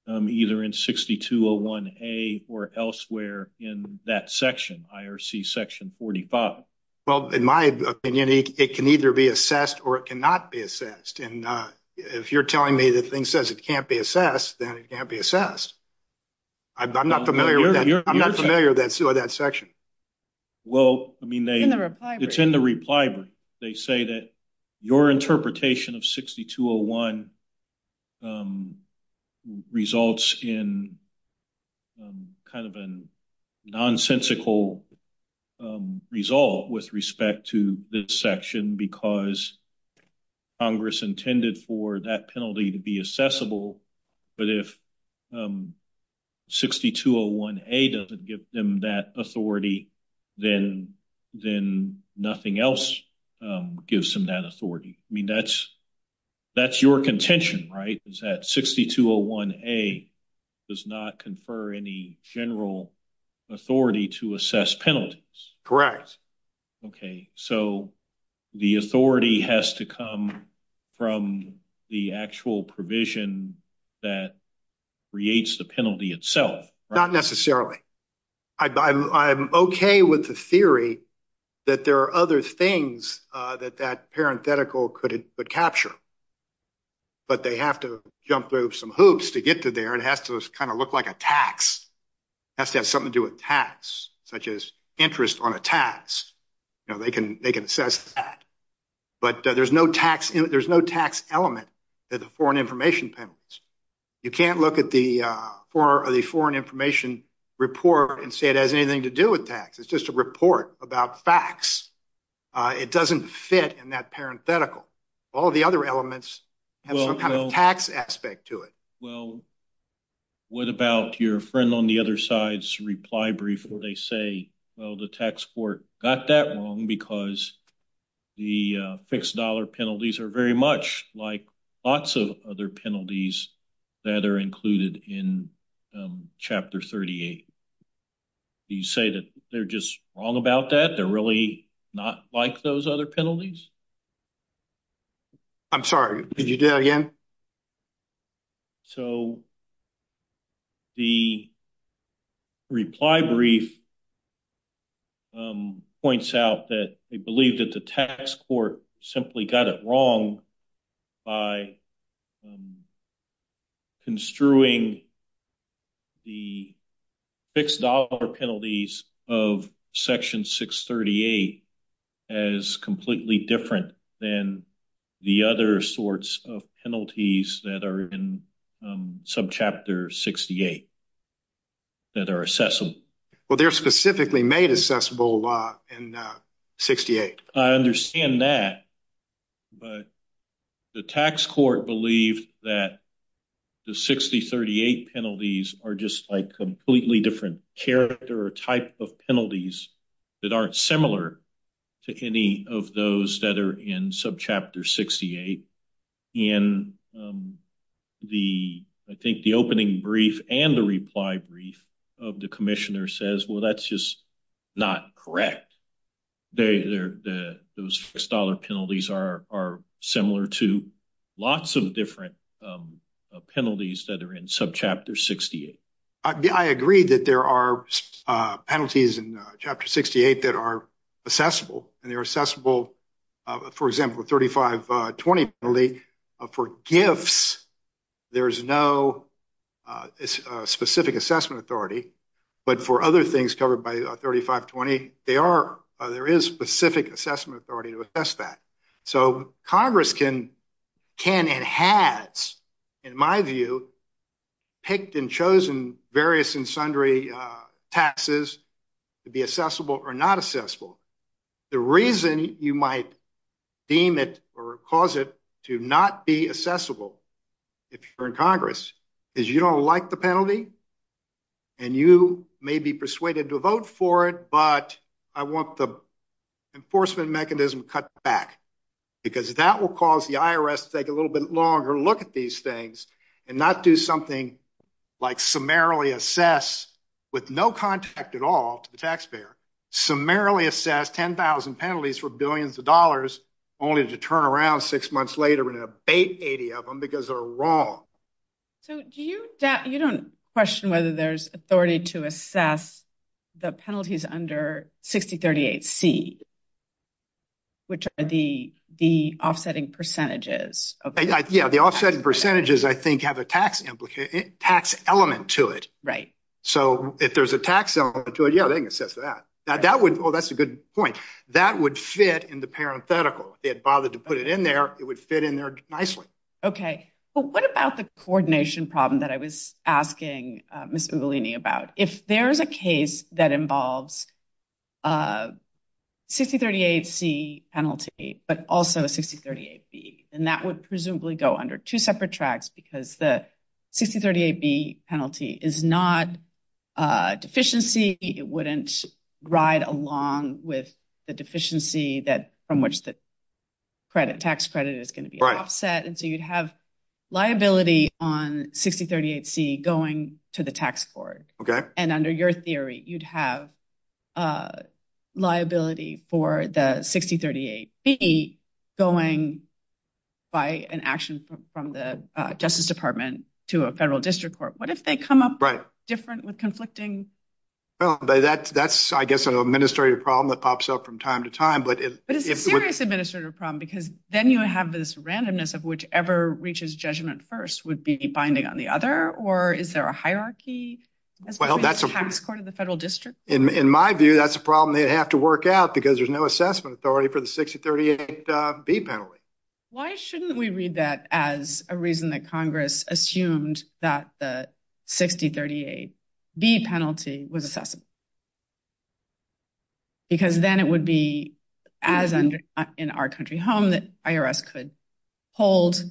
either in 6201A or elsewhere in that section, IRC section 45? Well, in my opinion, it can either be assessed or it cannot be assessed, and if you're telling me the thing says it can't be assessed, then it can't be assessed. I'm not familiar with that section. Well, I mean, it's in the reply. They say that your interpretation of 6201 results in kind of a nonsensical result with respect to this section because Congress intended for that penalty to be assessable, but if 6201A doesn't give them that authority, then nothing else gives them that authority. I mean, that's your contention, right, is that 6201A does not confer any general authority to assess penalties? Correct. Okay, so the authority has to come from the actual provision that creates the penalty itself. Not necessarily. I'm okay with the theory that there are other things that that parenthetical could capture, but they have to jump through some hoops to get to there. It has to kind of look like tax. It has to have something to do with tax, such as interest on a tax, and they can assess that, but there's no tax element in the foreign information penalties. You can't look at the foreign information report and say it has anything to do with tax. It's just a report about facts. It doesn't fit in that parenthetical. All the other elements have some kind of tax aspect to it. Well, what about your friend on the other side's reply brief where they say, well, the tax court got that wrong because the fixed dollar penalties are very much like lots of other penalties that are included in Chapter 38. Do you say that they're just all about that? They're really not like those other penalties? I'm sorry. Could you do that again? So, the reply brief points out that they believe that the tax court simply got it wrong by construing the fixed dollar penalties of Section 638 as completely different than the other sorts of penalties that are in subchapter 68 that are accessible. Well, they're specifically made accessible in 68. I understand that, but the tax court believed that the 6038 penalties are just like completely different character or type of penalties that aren't similar to any of those that are in subchapter 68. I think the opening brief and the reply brief of the commissioner says, well, that's just not correct. Those fixed dollar penalties are similar to lots of different penalties that are in subchapter 68. I agree that there are penalties in Chapter 68 that are accessible, and they're accessible, for example, 3520 penalty for gifts. There's no specific assessment authority, but for other things covered by 3520, there is specific assessment authority to assess that. So, Congress can and has, in my view, picked and chosen various and sundry taxes to be accessible or not accessible. The reason you might deem it or cause it to not be accessible if you're in Congress is you don't like the penalty, and you may be persuaded to vote for it, but I want the enforcement mechanism cut back because that will cause the IRS to take a little bit longer to look at these things and not do something like summarily assess with no contact at all to the taxpayer, summarily assess 10,000 penalties for billions of dollars, only to turn around six months later and You don't question whether there's authority to assess the penalties under 6038C, which are the offsetting percentages. Yeah, the offsetting percentages, I think, have a tax element to it. Right. So, if there's a tax element to it, yeah, they can assess that. That would, oh, that's a good point. That would fit in the parenthetical. If they had bothered to put it in there, it would fit in there nicely. Okay, but what about the coordination problem that I was asking Mr. Bellini about? If there is a case that involves 6038C penalty, but also 6038B, and that would presumably go under two separate tracks because the 6038B penalty is not a deficiency. It wouldn't ride along with the deficiency that, which the tax credit is going to be offset. And so, you'd have liability on 6038C going to the tax board. Okay. And under your theory, you'd have liability for the 6038B going by an action from the Justice Department to a federal district court. What if they come up different with conflicting? Well, that's, I guess, an administrative problem that pops up from time to time. But it's a serious administrative problem because then you have this randomness of whichever reaches judgment first would be binding on the other, or is there a hierarchy? Well, that's a- Tax court of the federal district? In my view, that's a problem they'd have to work out because there's no assessment authority for the 6038B penalty. Why shouldn't we read that as a reason that Congress assumed that the 6038B penalty was assessable? Because then it would be as in our country home that IRS could hold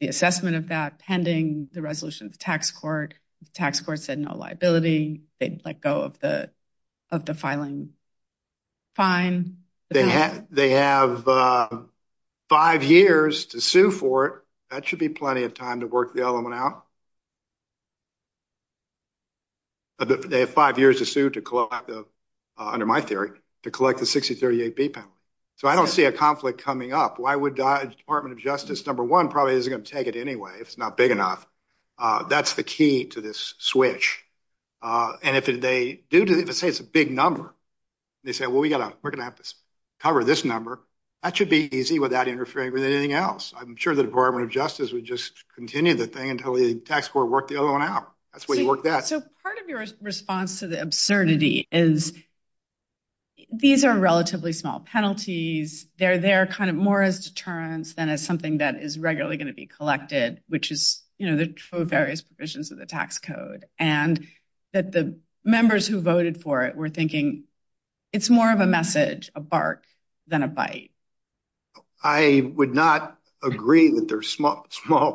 the assessment of that pending the resolution of the tax court. Tax court said no liability. They'd let go of the filing fine. They have five years to sue for it. That should be plenty of time to work the element out. They have five years to sue to collect the, under my theory, to collect the 6038B penalty. So I don't see a conflict coming up. Why would the Department of Justice, number one, probably isn't going to take it anyway. It's not big enough. That's the key to this switch. And if they do, if it's a big number, they say, well, we're going to have to cover this number. That should be easy without interfering with anything else. I'm sure the Department of Tax will work the other one out. That's where you work that. So part of your response to the absurdity is these are relatively small penalties. They're there kind of more as deterrents than as something that is regularly going to be collected, which is, you know, the various provisions of the tax code. And that the members who voted for it were thinking it's more of a message, a bark than a bite. I would not agree that they're small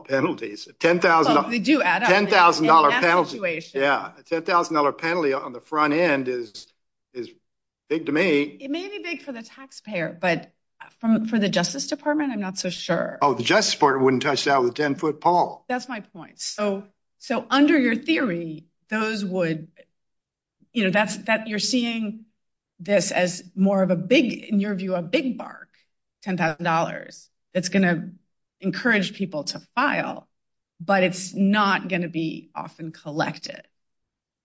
penalties. $10,000 penalty on the front end is big to me. It may be big for the taxpayer, but for the Justice Department, I'm not so sure. Oh, the Justice Department wouldn't touch that with 10 foot pole. That's my point. So under your theory, those would, you know, that you're seeing this as more of a big, in your view, a big bark, $10,000, that's going to encourage people to file, but it's not going to be often collected.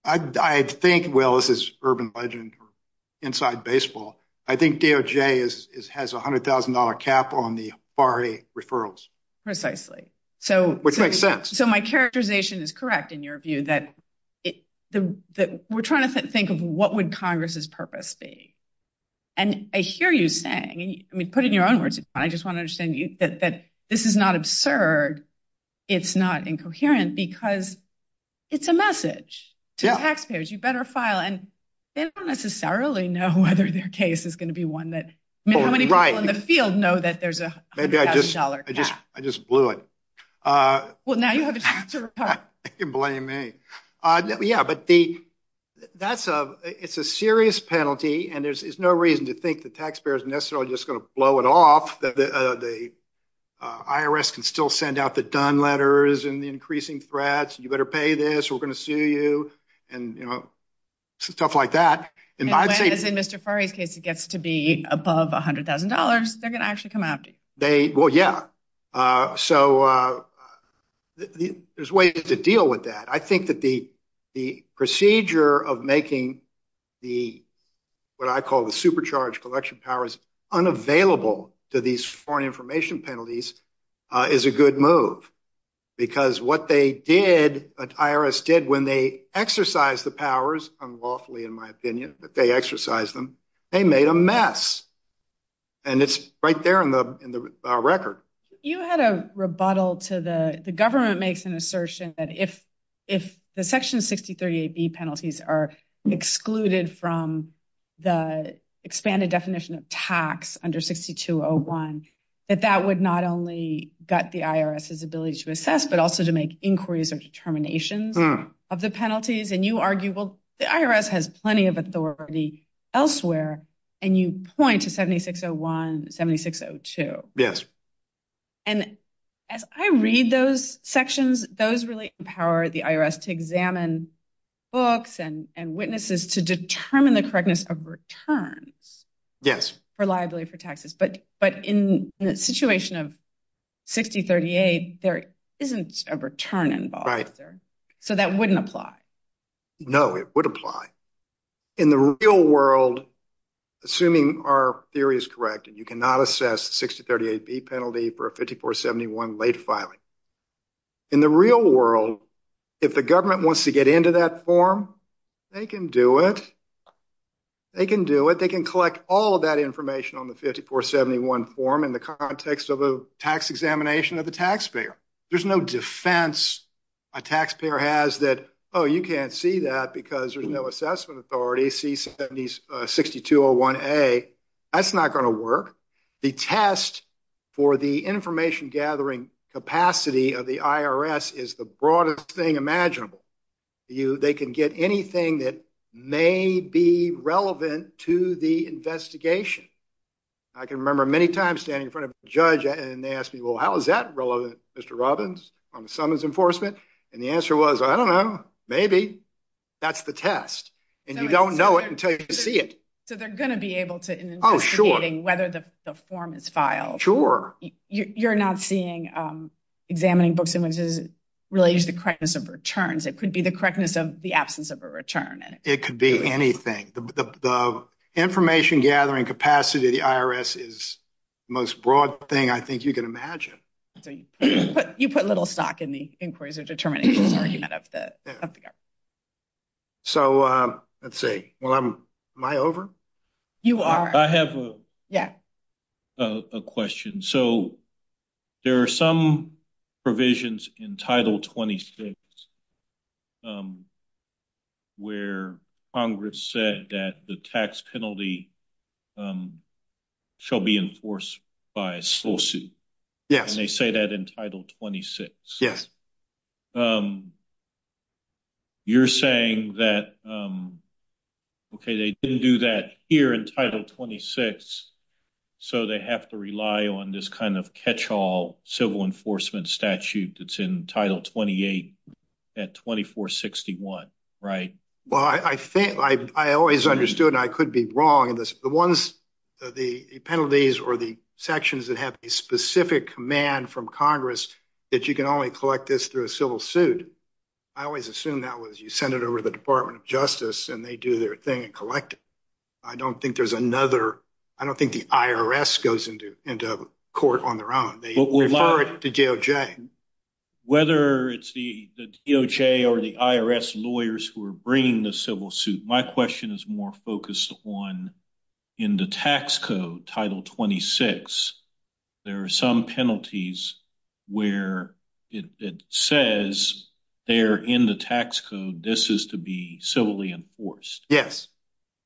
I think, well, this is urban legend inside baseball. I think DOJ has a $100,000 cap on the FARA referrals. Precisely. Which makes sense. So my characterization is correct in your view that we're trying to think of what would Congress purpose be? And I hear you saying, I mean, put it in your own words. I just want to understand that this is not absurd. It's not incoherent because it's a message to taxpayers. You better file. And they don't necessarily know whether their case is going to be one that many people in the field know that there's a $100,000 cap. Maybe I just blew it. Well, now you have a chance to reply. You can blame me. Yeah, but that's a, it's a serious penalty and there's no reason to think the taxpayer is necessarily just going to blow it off. The IRS can still send out the done letters and the increasing threats. You better pay this. We're going to sue you and, you know, stuff like that. And in Mr. Fara's case, it gets to be above $100,000. They're going to actually come after me. Well, yeah. So there's ways to deal with that. I think that the procedure of making the, what I call the supercharged collection powers unavailable to these foreign information penalties is a good move because what they did, what IRS did when they exercised the powers unlawfully, in my opinion, that they exercised them, they made a mess. And it's right there in the record. You had a rebuttal to the, the government makes an assertion that if, if the section 63AB penalties are excluded from the expanded definition of tax under 6201, that that would not only gut the IRS's ability to assess, but also to make inquiries or determinations of the penalties. And you argue, well, the IRS has plenty of authority elsewhere. And you point to 7601, 7602. Yes. And as I read those sections, those really empower the IRS to examine books and, and witnesses to determine the correctness of returns. Yes. Reliability for taxes. But, but in the situation of 6038, there isn't a return involved there. So that wouldn't apply. No, it would apply. In the real world, assuming our theory is correct, and you cannot assess 6038B penalty for a 5471 late filing. In the real world, if the government wants to get into that form, they can do it. They can do it. They can collect all of that information on the 5471 form in the context of a tax examination of the taxpayer. There's no defense a taxpayer has that, oh, you can't see that because there's no assessment authority, C7601A. That's not going to work. The test for the information gathering capacity of the IRS is the broadest thing imaginable. They can get anything that may be relevant to the investigation. I can remember many times standing in front of a judge and they asked me, well, how is that relevant, Mr. Robbins on summons enforcement? And the answer was, I don't know, maybe. That's the test. And you don't know it until you see it. So they're going to be able to... Oh, sure. ...whether the form is filed. Sure. You're not seeing examining books related to the correctness of returns. It could be the correctness of the absence of a return. It could be anything. The information gathering capacity of the IRS is the most broad thing I think you can imagine. You put little stock in the inquiries or determinations. So let's see. Am I over? You are. I have a question. So there are some provisions in Title 26 where Congress said that the tax penalty shall be enforced by a slow suit. Yes. And they say that in Title 26. Yes. You're saying that, okay, they didn't do that here in Title 26, so they have to rely on this catch-all civil enforcement statute that's in Title 28 at 2461, right? Well, I always understood, and I could be wrong, the penalties or the sections that have a specific command from Congress that you can only collect this through a civil suit, I always assumed that was you send it over to the Department of Justice and they do their thing and collect it. I don't think there's another, I don't think the IRS goes into court on their own. They refer it to DOJ. Whether it's the DOJ or the IRS lawyers who are bringing the civil suit, my question is more focused on in the tax code, Title 26, there are some penalties where it says there in the tax code this is to be civilly enforced. Yes.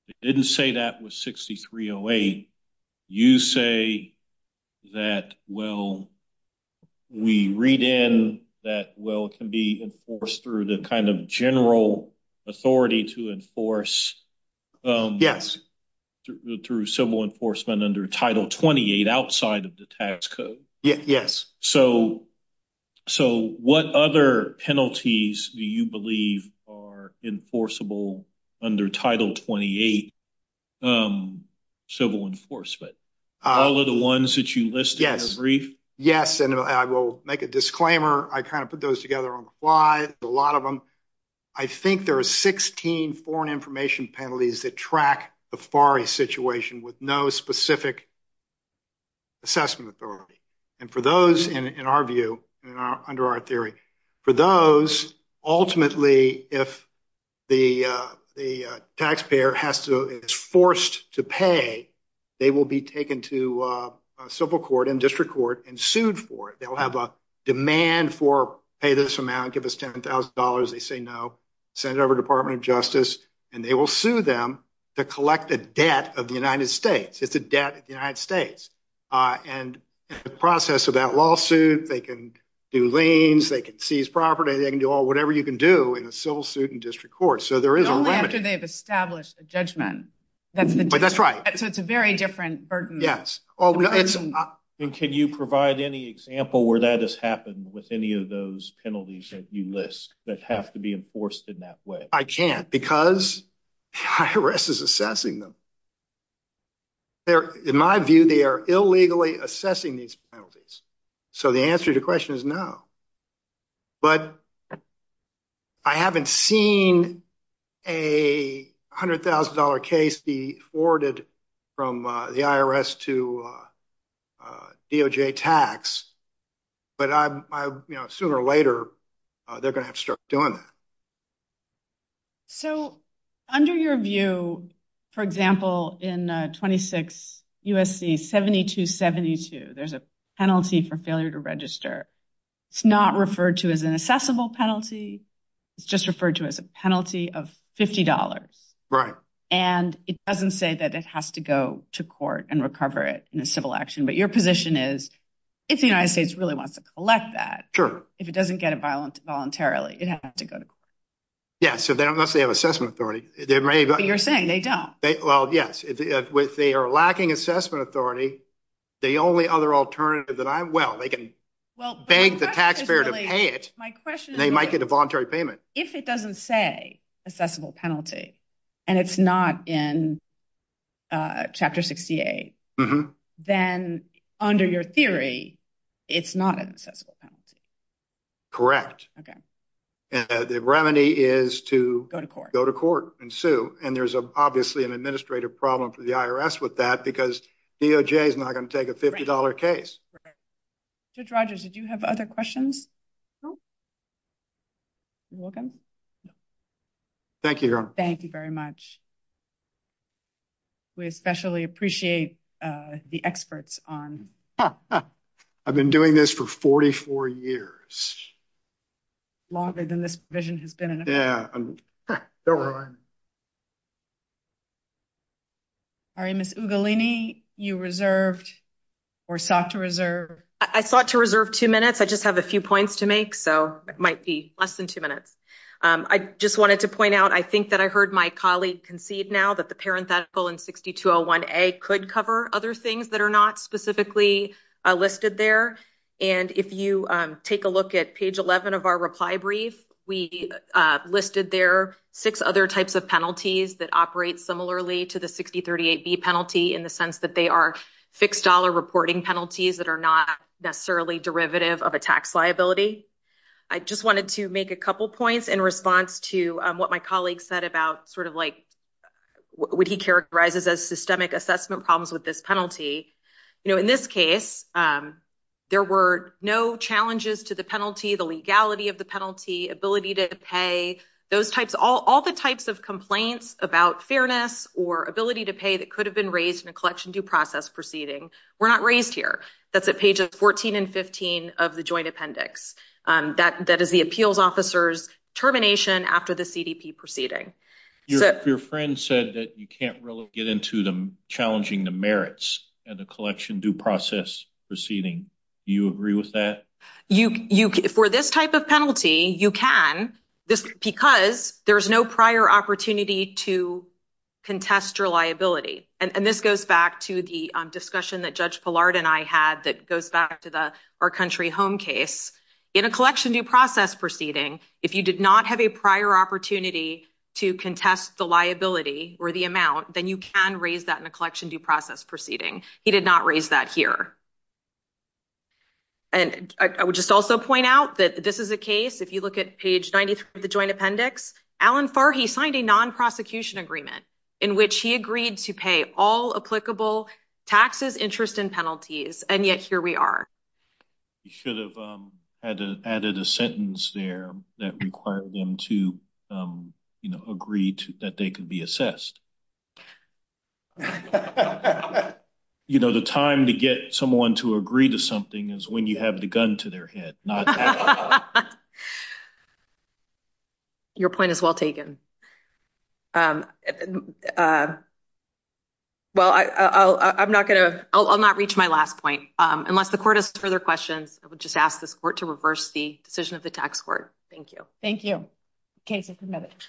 It didn't say that with 6308. You say that, well, we read in that, well, it can be enforced through the kind of general authority to enforce through civil enforcement under Title 28 outside of the tax code. Yes. So what other penalties do you believe are enforceable under Title 28 civil enforcement? All of the ones that you listed in the brief? Yes. And I will make a disclaimer. I kind of put those together on the fly, a lot of them. I think there are 16 foreign information penalties that track the FARA situation with no specific assessment authority. And for those in our view, under our theory, for those, ultimately, if the taxpayer is forced to pay, they will be taken to a civil court and district court and sued for it. They'll have a demand for pay this amount, give us $10,000. They say no, send it over to the Department of Justice, and they will sue them to collect a debt of the United States. It's a debt of the United States. And in the process of that lawsuit, they can do liens, they can seize property, they can do whatever you can do in civil suit and district court. Only after they've established a judgment. But that's right. So it's a very different burden. Yes. And can you provide any example where that has happened with any of those penalties that you list that have to be enforced in that way? I can't, because IRS is assessing them. In my view, they are illegally assessing these penalties. So the answer to the question is no. But I haven't seen a $100,000 case be forwarded from the IRS to DOJ tax. But sooner or later, they're going to have to start doing that. So under your view, for example, in 26 U.S.C. 7272, there's a penalty for failure to register. It's not referred to as an assessable penalty. It's just referred to as a penalty of $50. Right. And it doesn't say that it has to go to court and recover it in a civil action. But your position is, if the United States really wants to collect that, if it doesn't get it voluntarily, it has to go to court. Yeah. So they don't necessarily have assessment authority. But you're saying they don't. Well, yes. If they are lacking assessment authority, the only other alternative that I'm... Well, they can beg the taxpayer to pay it, and they might get a voluntary payment. If it doesn't say assessable penalty, and it's not in Chapter 68, then under your theory, it's not an assessable penalty. Correct. Okay. And the remedy is to... Go to court. Go to court and sue. And there's obviously an administrative problem for the IRS with that, because DOJ is not going to take a $50 case. Judge Rogers, did you have other questions? No. You're welcome. Thank you, Your Honor. Thank you very much. We especially appreciate the experts on... I've been doing this for 44 years. Longer than this division has been in... Yeah. All right. Ms. Ugalini, you reserved or sought to reserve... I sought to reserve two minutes. I just have a few points to make, so it might be less than two minutes. I just wanted to point out, I think that I heard my colleague concede now that the parenthetical in 6201A could cover other things that are not specifically listed there. And if you take a look at page 11 of our reply brief, we listed there six other types of penalties that operate similarly to the 6038B penalty in the sense that they are fixed dollar reporting penalties that are not necessarily derivative of a tax liability. I just wanted to make a couple points in response to what my colleague said about what he characterizes as systemic assessment problems with this penalty. In this case, there were no challenges to the penalty, the legality of the penalty, ability to pay, all the types of complaints about fairness or ability to pay that could have been raised in a collection due process proceeding were not raised here. That's at pages 14 and 15 of the joint appendix. That is the appeals officer's termination after the CDP proceeding. Your friend said that you can't really get into them challenging the merits and the collection due process proceeding. Do you agree with that? For this type of penalty, you can just because there's no prior opportunity to contest your liability. And this goes back to the discussion that Judge Pillard and I had that goes back to the our country home case. In a collection due process proceeding, if you did not have a prior opportunity to contest the liability or the amount, then you can raise that in a collection due process proceeding. He did not point out that this is a case, if you look at page 93 of the joint appendix, Alan Farhi signed a non-prosecution agreement in which he agreed to pay all applicable taxes, interest, and penalties, and yet here we are. You should have added a sentence there that required them to agree that they could be assessed. You know, the time to get someone to agree to something is when you have the gun to their head. Your point is well taken. Well, I'm not going to, I'll not reach my last point. Unless the court has further questions, I would just ask this court to reverse the decision of the tax court. Thank you. Thank you. Okay, just a minute.